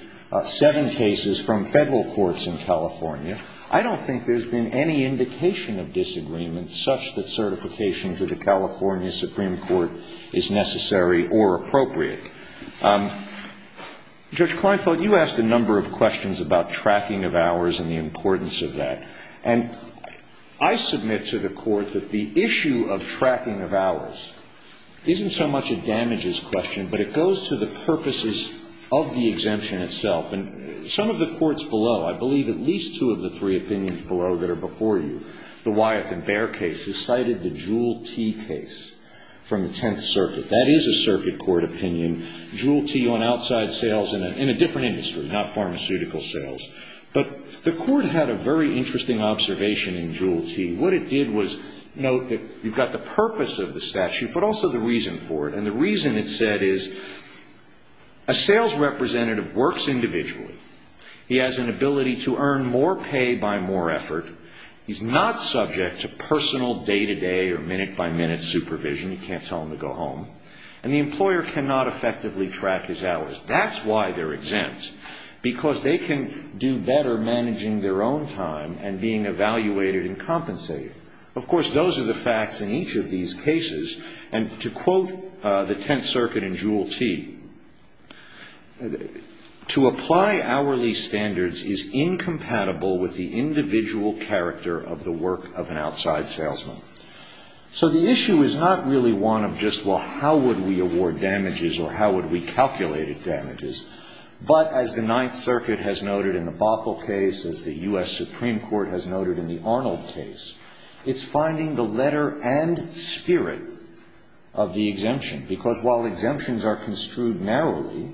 seven cases from Federal courts in California, I don't think there's been any indication of disagreement such that certification to the California Supreme Court is necessary or appropriate. Judge Kleinfeld, you asked a number of questions about tracking of hours and the importance of that. And I submit to the Court that the issue of tracking of hours isn't so much a damages question, but it goes to the purposes of the exemption itself. And some of the courts below, I believe at least two of the three opinions below that are before you, the Wyeth and Bair case is cited, the Jewell T. case from the Tenth Circuit. That is a circuit court opinion. Jewell T. on outside sales in a different industry, not pharmaceutical sales. But the Court had a very interesting observation in Jewell T. What it did was note that you've got the purpose of the statute, but also the reason for it. And the reason it said is a sales representative works individually. He has an ability to earn more pay by more effort. He's not subject to personal day-to-day or minute-by-minute supervision. You can't tell him to go home. And the employer cannot effectively track his hours. That's why they're exempt, because they can do better managing their own time and being evaluated and compensated. Of course, those are the facts in each of these cases. And to quote the Tenth Circuit in Jewell T., to apply hourly standards is incompatible with the individual character of the work of an outside salesman. So the issue is not really one of just, well, how would we award damages or how would we calculate damages? But as the Ninth Circuit has noted in the Bothell case, as the U.S. Supreme Court has noted in the Arnold case, it's finding the letter and spirit of the exemption. Because while exemptions are construed narrowly,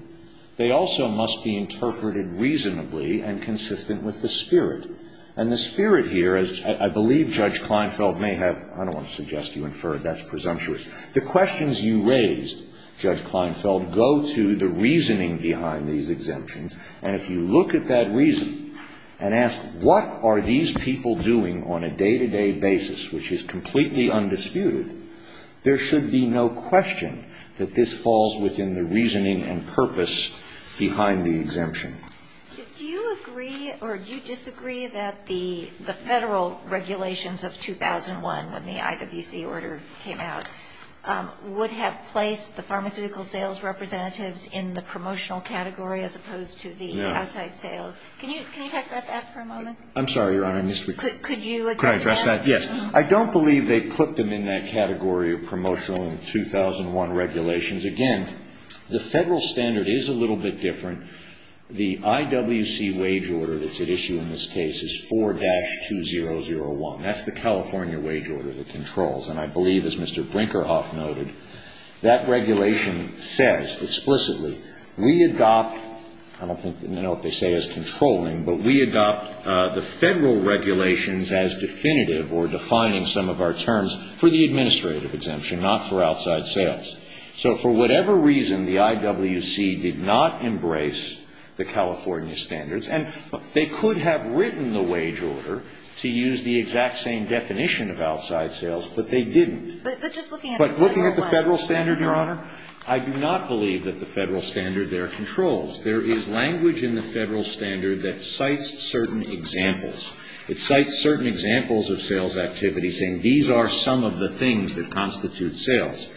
they also must be interpreted reasonably and consistent with the spirit. And the spirit here, as I believe Judge Kleinfeld may have – I don't want to suggest you inferred. That's presumptuous. The questions you raised, Judge Kleinfeld, go to the reasoning behind these exemptions. And if you look at that reason and ask what are these people doing on a day-to-day basis, which is completely undisputed, there should be no question that this falls within the reasoning and purpose behind the exemption. Do you agree or do you disagree that the Federal regulations of 2001, when the IWC order came out, would have placed the pharmaceutical sales representatives in the promotional category as opposed to the outside sales? No. Can you talk about that for a moment? I'm sorry, Your Honor. Could you address that? Could I address that? Yes. I don't believe they put them in that category of promotional in the 2001 regulations. Again, the Federal standard is a little bit different. The IWC wage order that's at issue in this case is 4-2001. That's the California wage order that controls. And I believe, as Mr. Brinkerhoff noted, that regulation says explicitly, we adopt – I don't know if they say as controlling – but we adopt the Federal regulations as definitive or defining some of our terms for the administrative exemption, not for outside sales. So for whatever reason, the IWC did not embrace the California standards. And they could have written the wage order to use the exact same definition of outside sales, but they didn't. But just looking at the Federal standard, Your Honor? I do not believe that the Federal standard there controls. There is language in the Federal standard that cites certain examples. It cites certain examples of sales activity, saying these are some of the things that constitute sales.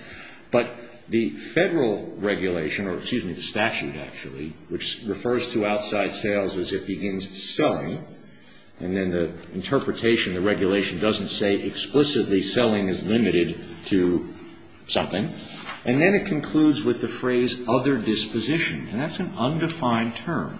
But the Federal regulation – or excuse me, the statute, actually, which refers to outside sales as it begins selling, and then the interpretation, the regulation doesn't say explicitly selling is limited to something. And then it concludes with the phrase other disposition. And that's an undefined term.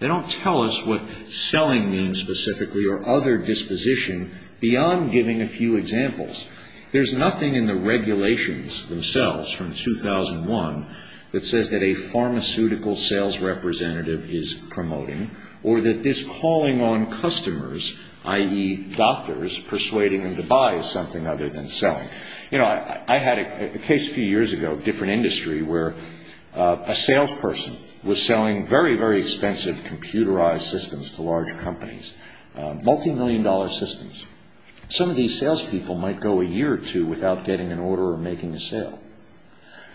They don't tell us what selling means specifically or other disposition beyond giving a few examples. There's nothing in the regulations themselves from 2001 that says that a pharmaceutical sales representative is promoting or that this calling on customers, i.e., doctors, persuading them to buy is something other than selling. You know, I had a case a few years ago, different industry, where a salesperson was selling very, very expensive computerized systems to large companies, multimillion-dollar systems. Some of these salespeople might go a year or two without getting an order or making a sale.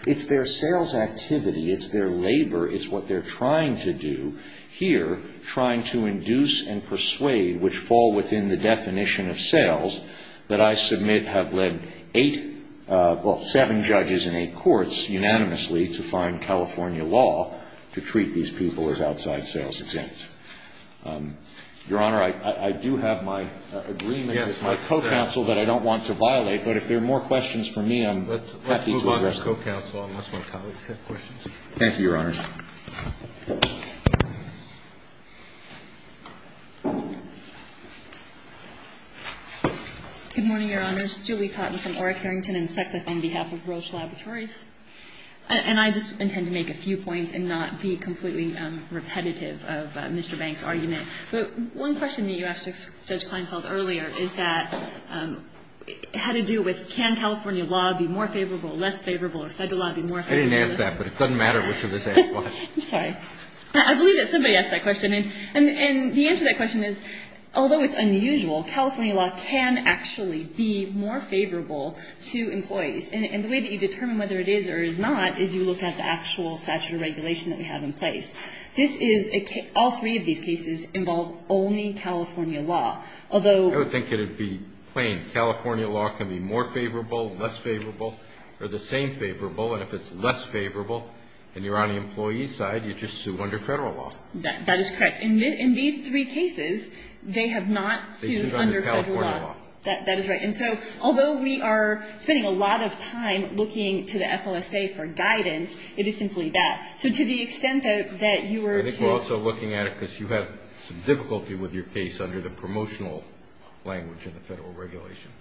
It's their sales activity. It's their labor. It's what they're trying to do here, trying to induce and persuade, which fall within the definition of sales, that I submit have led eight – well, seven judges in eight courts unanimously to find California law to treat these people as outside sales exempt. Your Honor, I do have my agreement with my co-counsel that I don't want to violate. But if there are more questions for me, I'm happy to address them. Let's move on to co-counsel, unless my colleagues have questions. Thank you, Your Honors. Good morning, Your Honors. Julie Cotton from Orrick, Arrington, and Seckwith on behalf of Roche Laboratories. And I just intend to make a few points and not be completely repetitive of Mr. Banks' argument. But one question that you asked Judge Kleinfeld earlier is that – had to do with can California law be more favorable, less favorable, or Federal law be more favorable? I didn't ask that, but it doesn't matter which of us asked what. I'm sorry. I believe that somebody asked that question. And the answer to that question is, although it's unusual, California law can actually be more favorable to employees. And the way that you determine whether it is or is not is you look at the actual statute of regulation that we have in place. This is – all three of these cases involve only California law. Although – I would think that it would be plain. California law can be more favorable, less favorable, or the same favorable. And if it's less favorable and you're on the employee's side, you're just sued under Federal law. That is correct. In these three cases, they have not sued under Federal law. They sued under California law. That is right. And so although we are spending a lot of time looking to the FLSA for guidance, it is simply that. So to the extent that you were – I think we're also looking at it because you have some difficulty with your case under the promotional language in the Federal regulation.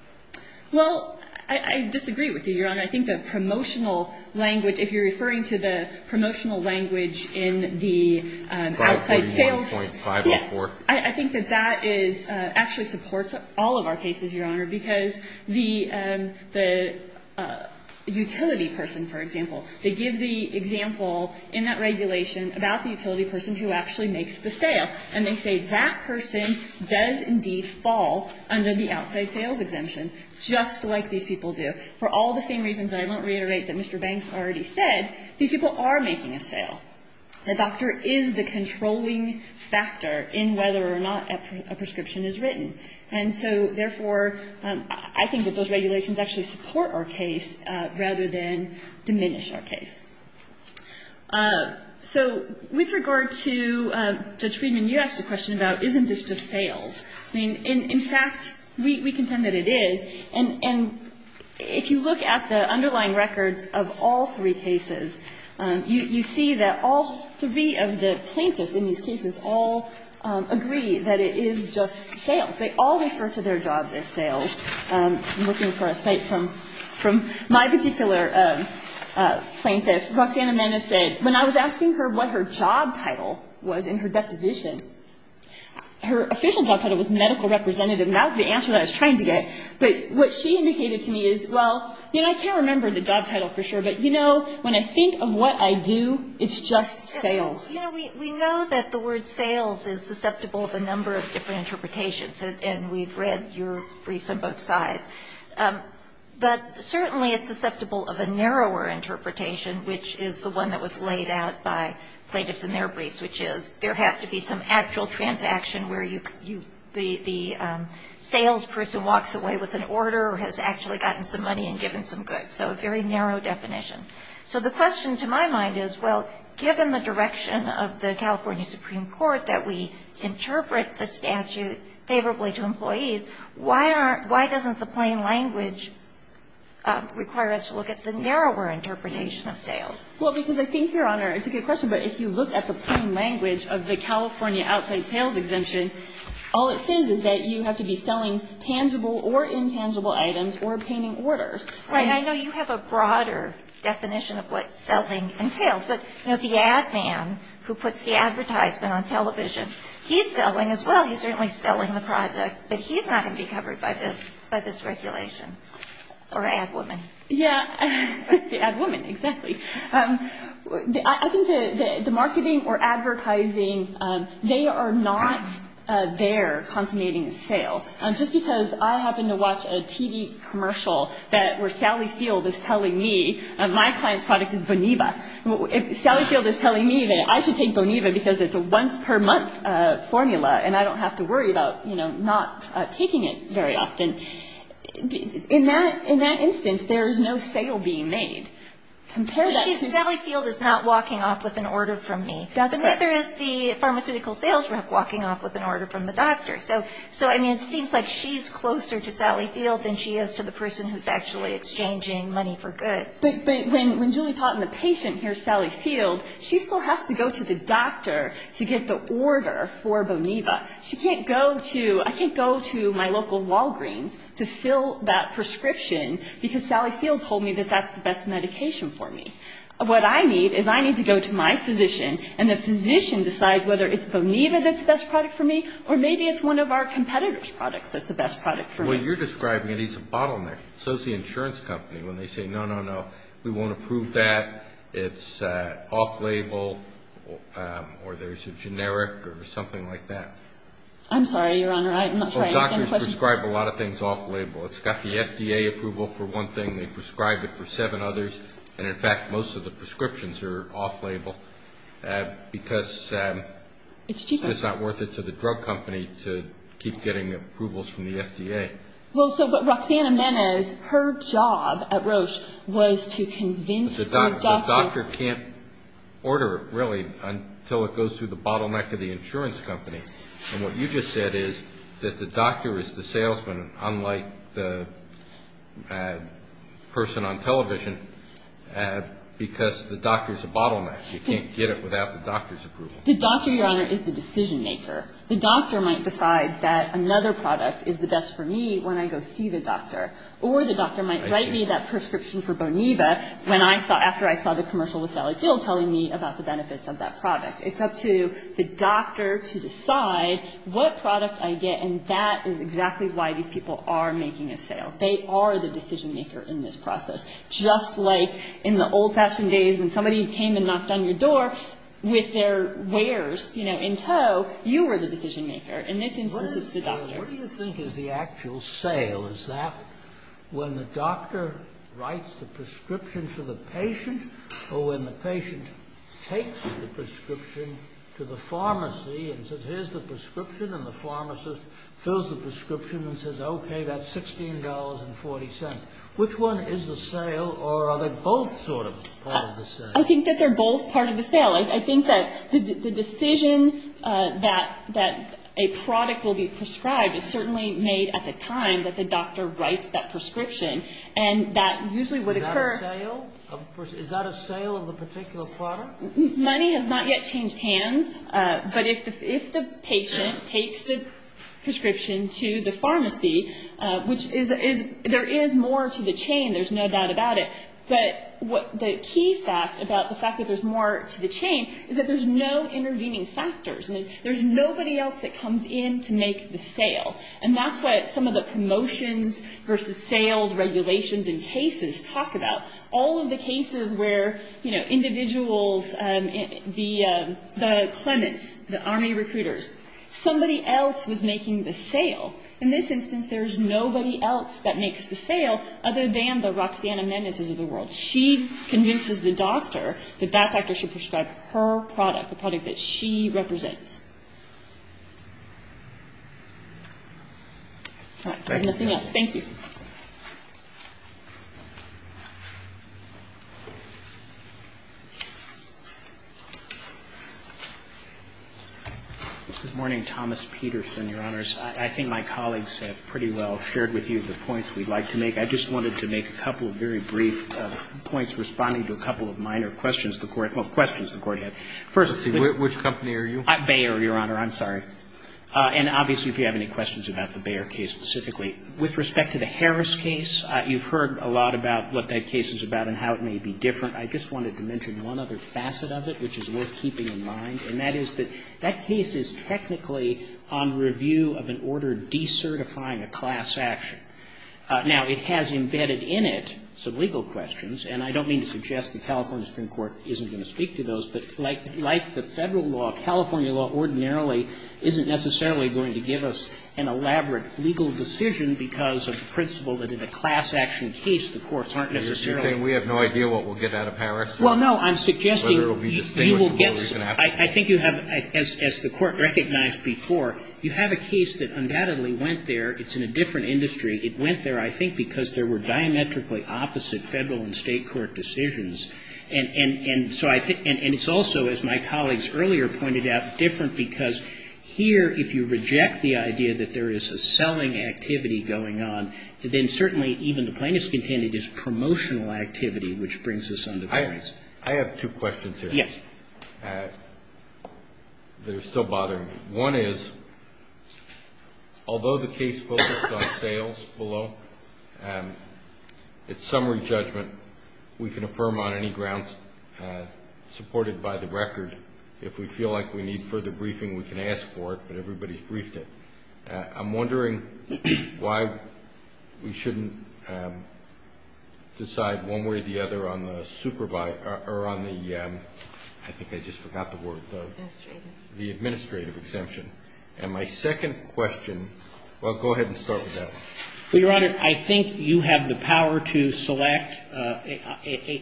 Well, I disagree with you, Your Honor. I think the promotional language – if you're referring to the promotional language in the outside sales – 541.504. I think that that is – actually supports all of our cases, Your Honor, because the utility person, for example, they give the example in that regulation about the utility person who actually makes the sale. And they say that person does indeed fall under the outside sales exemption, just like these people do. For all the same reasons that I won't reiterate that Mr. Banks already said, these people are making a sale. The doctor is the controlling factor in whether or not a prescription is written. And so, therefore, I think that those regulations actually support our case rather than diminish our case. So with regard to Judge Friedman, you asked a question about isn't this just sales. I mean, in fact, we contend that it is. And if you look at the underlying records of all three cases, you see that all three of the plaintiffs in these cases all agree that it is just sales. They all refer to their jobs as sales. I'm looking for a cite from my particular plaintiff. Roxanna Menes said, when I was asking her what her job title was in her deposition, her official job title was medical representative. And that was the answer that I was trying to get. But what she indicated to me is, well, you know, I can't remember the job title for sure. But, you know, when I think of what I do, it's just sales. You know, we know that the word sales is susceptible of a number of different interpretations. And we've read your briefs on both sides. But certainly it's susceptible of a narrower interpretation, which is the one that was laid out by plaintiffs in their briefs, which is there has to be some actual transaction where the salesperson walks away with an order or has actually gotten some money and given some goods. So a very narrow definition. So the question to my mind is, well, given the direction of the California Supreme Court that we interpret the statute favorably to employees, why doesn't the plain language require us to look at the narrower interpretation of sales? Well, because I think, Your Honor, it's a good question. But if you look at the plain language of the California outside sales exemption, all it says is that you have to be selling tangible or intangible items or obtaining orders. Right. I know you have a broader definition of what selling entails. But, you know, the ad man who puts the advertisement on television, he's selling as well. He's certainly selling the product. But he's not going to be covered by this regulation. Or ad woman. Yeah. The ad woman, exactly. I think the marketing or advertising, they are not their consummating sale. Just because I happen to watch a TV commercial that where Sally Field is telling me my client's product is Boniva. If Sally Field is telling me that I should take Boniva because it's a once per month formula and I don't have to worry about, you know, not taking it very often, in that instance, there is no sale being made. Sally Field is not walking off with an order from me. That's correct. But neither is the pharmaceutical sales rep walking off with an order from the doctor. So, I mean, it seems like she's closer to Sally Field than she is to the person who's actually exchanging money for goods. But when Julie taught the patient here Sally Field, she still has to go to the doctor to get the order for Boniva. She can't go to, I can't go to my local Walgreens to fill that prescription because Sally Field told me that that's the best medication for me. What I need is I need to go to my physician and the physician decides whether it's Boniva that's the best product for me or maybe it's one of our competitor's products that's the best product for me. Well, you're describing it as a bottleneck. So is the insurance company when they say, no, no, no, we won't approve that, it's off-label or there's a generic or something like that. They prescribe a lot of things off-label. It's got the FDA approval for one thing. They prescribe it for seven others. And, in fact, most of the prescriptions are off-label because it's not worth it to the drug company to keep getting approvals from the FDA. Well, so what Roxanna meant is her job at Roche was to convince the doctor. The doctor can't order it, really, until it goes through the bottleneck of the insurance company. And what you just said is that the doctor is the salesman, unlike the person on television, because the doctor is a bottleneck. You can't get it without the doctor's approval. The doctor, Your Honor, is the decision maker. The doctor might decide that another product is the best for me when I go see the doctor, or the doctor might write me that prescription for Boniva after I saw the commercial with Sally Gill telling me about the benefits of that product. It's up to the doctor to decide what product I get, and that is exactly why these people are making a sale. They are the decision maker in this process. Just like in the old-fashioned days when somebody came and knocked on your door with their wares, you know, in tow, you were the decision maker. In this instance, it's the doctor. What do you think is the actual sale? Is that when the doctor writes the prescription for the patient, or when the patient takes the prescription to the pharmacy and says, here's the prescription, and the pharmacist fills the prescription and says, okay, that's $16.40. Which one is the sale, or are they both sort of part of the sale? I think that they're both part of the sale. I think that the decision that a product will be prescribed is certainly made at the time that the doctor writes that prescription, and that usually would occur. Is that a sale? Money has not yet changed hands, but if the patient takes the prescription to the pharmacy, which there is more to the chain, there's no doubt about it, but the key fact about the fact that there's more to the chain is that there's no intervening factors. There's nobody else that comes in to make the sale, and that's what some of the promotions versus sales regulations and cases talk about. All of the cases where, you know, individuals, the Clements, the Army recruiters, somebody else was making the sale. In this instance, there's nobody else that makes the sale other than the Roxanna Mendez's of the world. She convinces the doctor that that doctor should prescribe her product, the product that she represents. All right. Nothing else. Thank you. Good morning, Thomas Peterson, Your Honors. I think my colleagues have pretty well shared with you the points we'd like to make. I just wanted to make a couple of very brief points responding to a couple of minor questions the Court had. Well, questions the Court had. First. Which company are you? Bayer, Your Honor. I'm sorry. And obviously, if you have any questions about the Bayer case specifically. With respect to the Harris case, you've heard a lot about what that case is about and how it may be different. I just wanted to mention one other facet of it, which is worth keeping in mind, and that is that that case is technically on review of an order decertifying a class action. Now, it has embedded in it some legal questions, and I don't mean to suggest the California Supreme Court isn't going to speak to those, but like the Federal law, California law ordinarily isn't necessarily going to give us an elaborate legal decision because of the principle that in a class action case, the courts aren't necessarily. You're saying we have no idea what we'll get out of Harris? Well, no. I'm suggesting you will get some. I think you have, as the Court recognized before, you have a case that undoubtedly went there. It's in a different industry. It went there, I think, because there were diametrically opposite Federal and State court decisions. And it's also, as my colleagues earlier pointed out, different because here, if you reject the idea that there is a selling activity going on, then certainly even the plaintiff's contended is promotional activity, which brings us under Harris. I have two questions here. Yes. That are still bothering me. One is, although the case focused on sales below, it's summary judgment. We can affirm on any grounds supported by the record. If we feel like we need further briefing, we can ask for it, but everybody's briefed it. I'm wondering why we shouldn't decide one way or the other on the supervisor or on the, I think I just forgot the word. Administrative. The administrative exemption. And my second question, well, go ahead and start with that one. Well, Your Honor, I think you have the power to select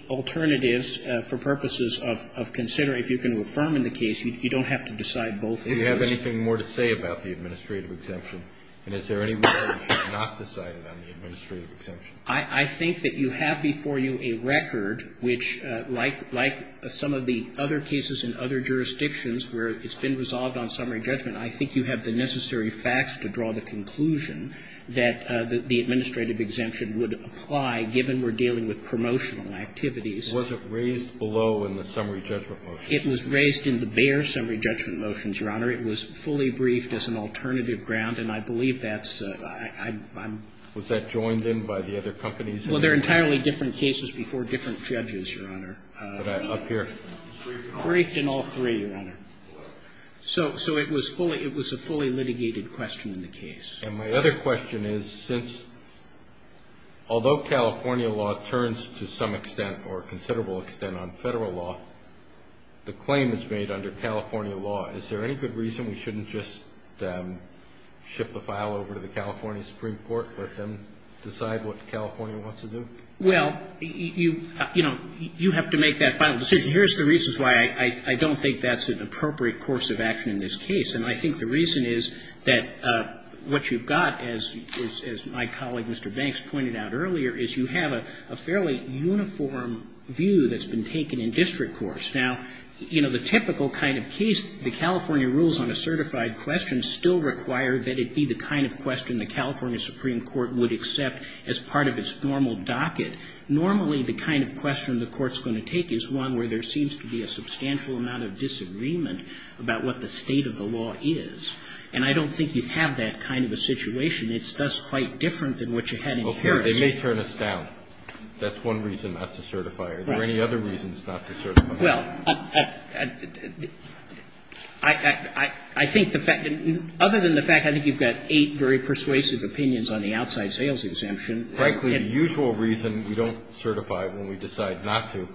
alternatives for purposes of considering. If you can affirm in the case, you don't have to decide both. Do you have anything more to say about the administrative exemption? And is there any way we should not decide on the administrative exemption? I think that you have before you a record which, like some of the other cases in other jurisdictions where it's been resolved on summary judgment, I think you have the necessary facts to draw the conclusion that the administrative exemption would apply given we're dealing with promotional activities. Was it raised below in the summary judgment motions? It was raised in the Bayer summary judgment motions, Your Honor. It was fully briefed as an alternative ground, and I believe that's, I'm. Was that joined in by the other companies? Well, they're entirely different cases before different judges, Your Honor. Up here. Briefed in all three, Your Honor. So it was fully, it was a fully litigated question in the case. And my other question is, since, although California law turns to some extent or considerable extent on Federal law, the claim is made under California law, is there any good reason we shouldn't just ship the file over to the California Supreme Court, let them decide what California wants to do? Well, you, you know, you have to make that final decision. Here's the reason why I don't think that's an appropriate course of action in this case, and I think the reason is that what you've got, as my colleague, Mr. Banks, pointed out earlier, is you have a fairly uniform view that's been taken in district courts. Now, you know, the typical kind of case, the California rules on a certified question still require that it be the kind of question the California Supreme Court would accept as part of its normal docket. Normally, the kind of question the Court's going to take is one where there seems to be a substantial amount of disagreement about what the state of the law is. And I don't think you have that kind of a situation. It's thus quite different than what you had in Harris. Well, here, they may turn us down. That's one reason not to certify. Right. Are there any other reasons not to certify? Well, I, I think the fact, other than the fact I think you've got eight very persuasive opinions on the outside sales exemption. Frankly, the usual reason we don't certify when we decide not to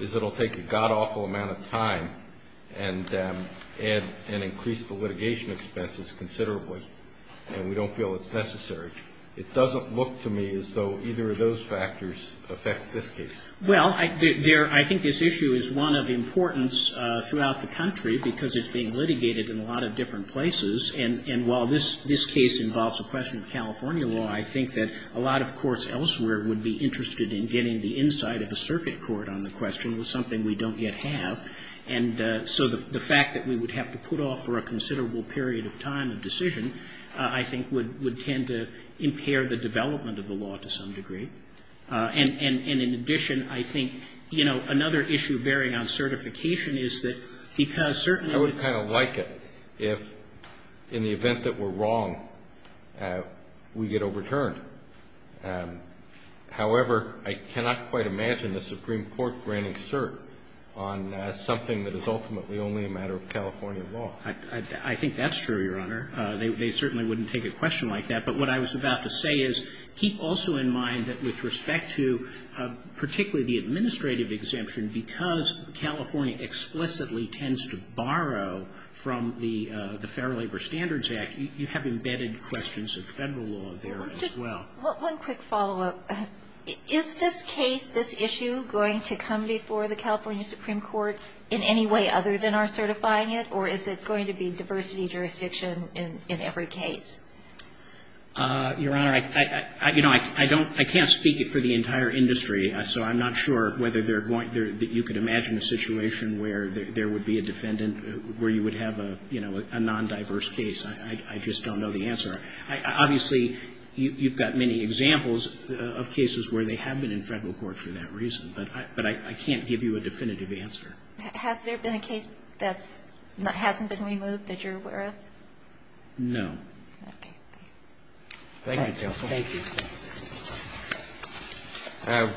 is it'll take a godawful amount of time and, and increase the litigation expenses considerably, and we don't feel it's necessary. It doesn't look to me as though either of those factors affects this case. Well, I, there, I think this issue is one of importance throughout the country because it's being litigated in a lot of different places. And, and while this, this case involves a question of California law, I think that a lot of courts elsewhere would be interested in getting the insight of a circuit court on the question. It's something we don't yet have. And so the, the fact that we would have to put off for a considerable period of time of decision, I think, would, would tend to impair the development of the law to some degree. And, and, and in addition, I think, you know, another issue bearing on certification is that because certainly the. We would kind of like it if in the event that we're wrong, we get overturned. However, I cannot quite imagine the Supreme Court granting cert on something that is ultimately only a matter of California law. I, I, I think that's true, Your Honor. They, they certainly wouldn't take a question like that. But what I was about to say is keep also in mind that with respect to particularly the administrative exemption, because California explicitly tends to borrow from the, the Fair Labor Standards Act, you, you have embedded questions of Federal law there as well. Just one quick follow-up. Is this case, this issue going to come before the California Supreme Court in any way other than our certifying it? Or is it going to be diversity jurisdiction in, in every case? Your Honor, I, I, I, you know, I, I don't, I can't speak for the entire industry, so I'm not sure whether they're going to, you could imagine a situation where there, there would be a defendant where you would have a, you know, a non-diverse case. I, I, I just don't know the answer. I, I, obviously you, you've got many examples of cases where they have been in Federal court for that reason. But I, but I, I can't give you a definitive answer. Has there been a case that's, that hasn't been removed that you're aware of? No. Okay. Thank you, counsel. Thank you.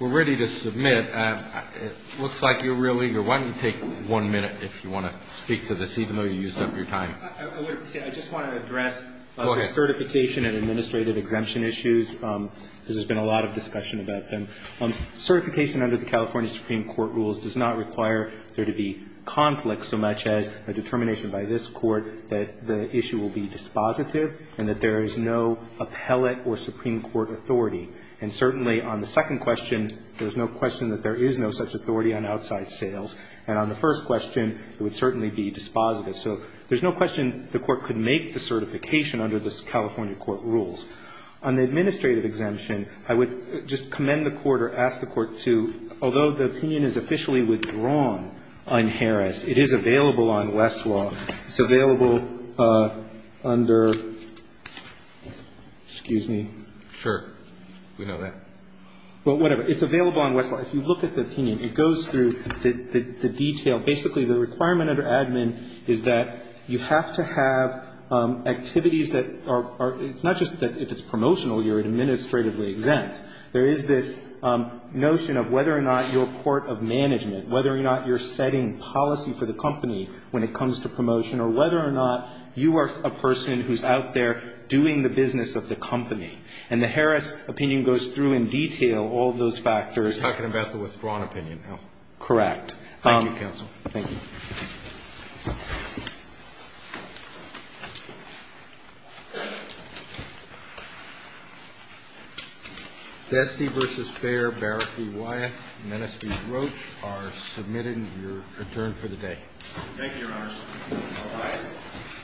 We're ready to submit. It looks like you're real eager. Why don't you take one minute if you want to speak to this, even though you used up your time. I would say, I just want to address the certification and administrative exemption issues. Go ahead. Because there's been a lot of discussion about them. Certification under the California Supreme Court rules does not require there to be conflict so much as a determination by this Court that the issue will be dispositive and that there is no appellate or Supreme Court authority. And certainly on the second question, there's no question that there is no such authority on outside sales. And on the first question, it would certainly be dispositive. So there's no question the Court could make the certification under the California court rules. On the administrative exemption, I would just commend the Court or ask the Court to, although the opinion is officially withdrawn on Harris, it is available on West Law. It's available under, excuse me. Sure. We know that. Well, whatever. It's available on West Law. If you look at the opinion, it goes through the detail. Basically, the requirement under admin is that you have to have activities that are, it's not just that if it's promotional, you're administratively exempt. There is this notion of whether or not you're a court of management, whether or not you're setting policy for the company when it comes to promotion, or whether or not you are a person who's out there doing the business of the company. And the Harris opinion goes through in detail all of those factors. You're talking about the withdrawn opinion now. Correct. Thank you, counsel. Thank you. Thank you. Destee versus Beyer, Barrapee, Wyeth, Menesquee, Roach are submitted and you're adjourned for the day. Thank you, Your Honor. Thank you. Aye.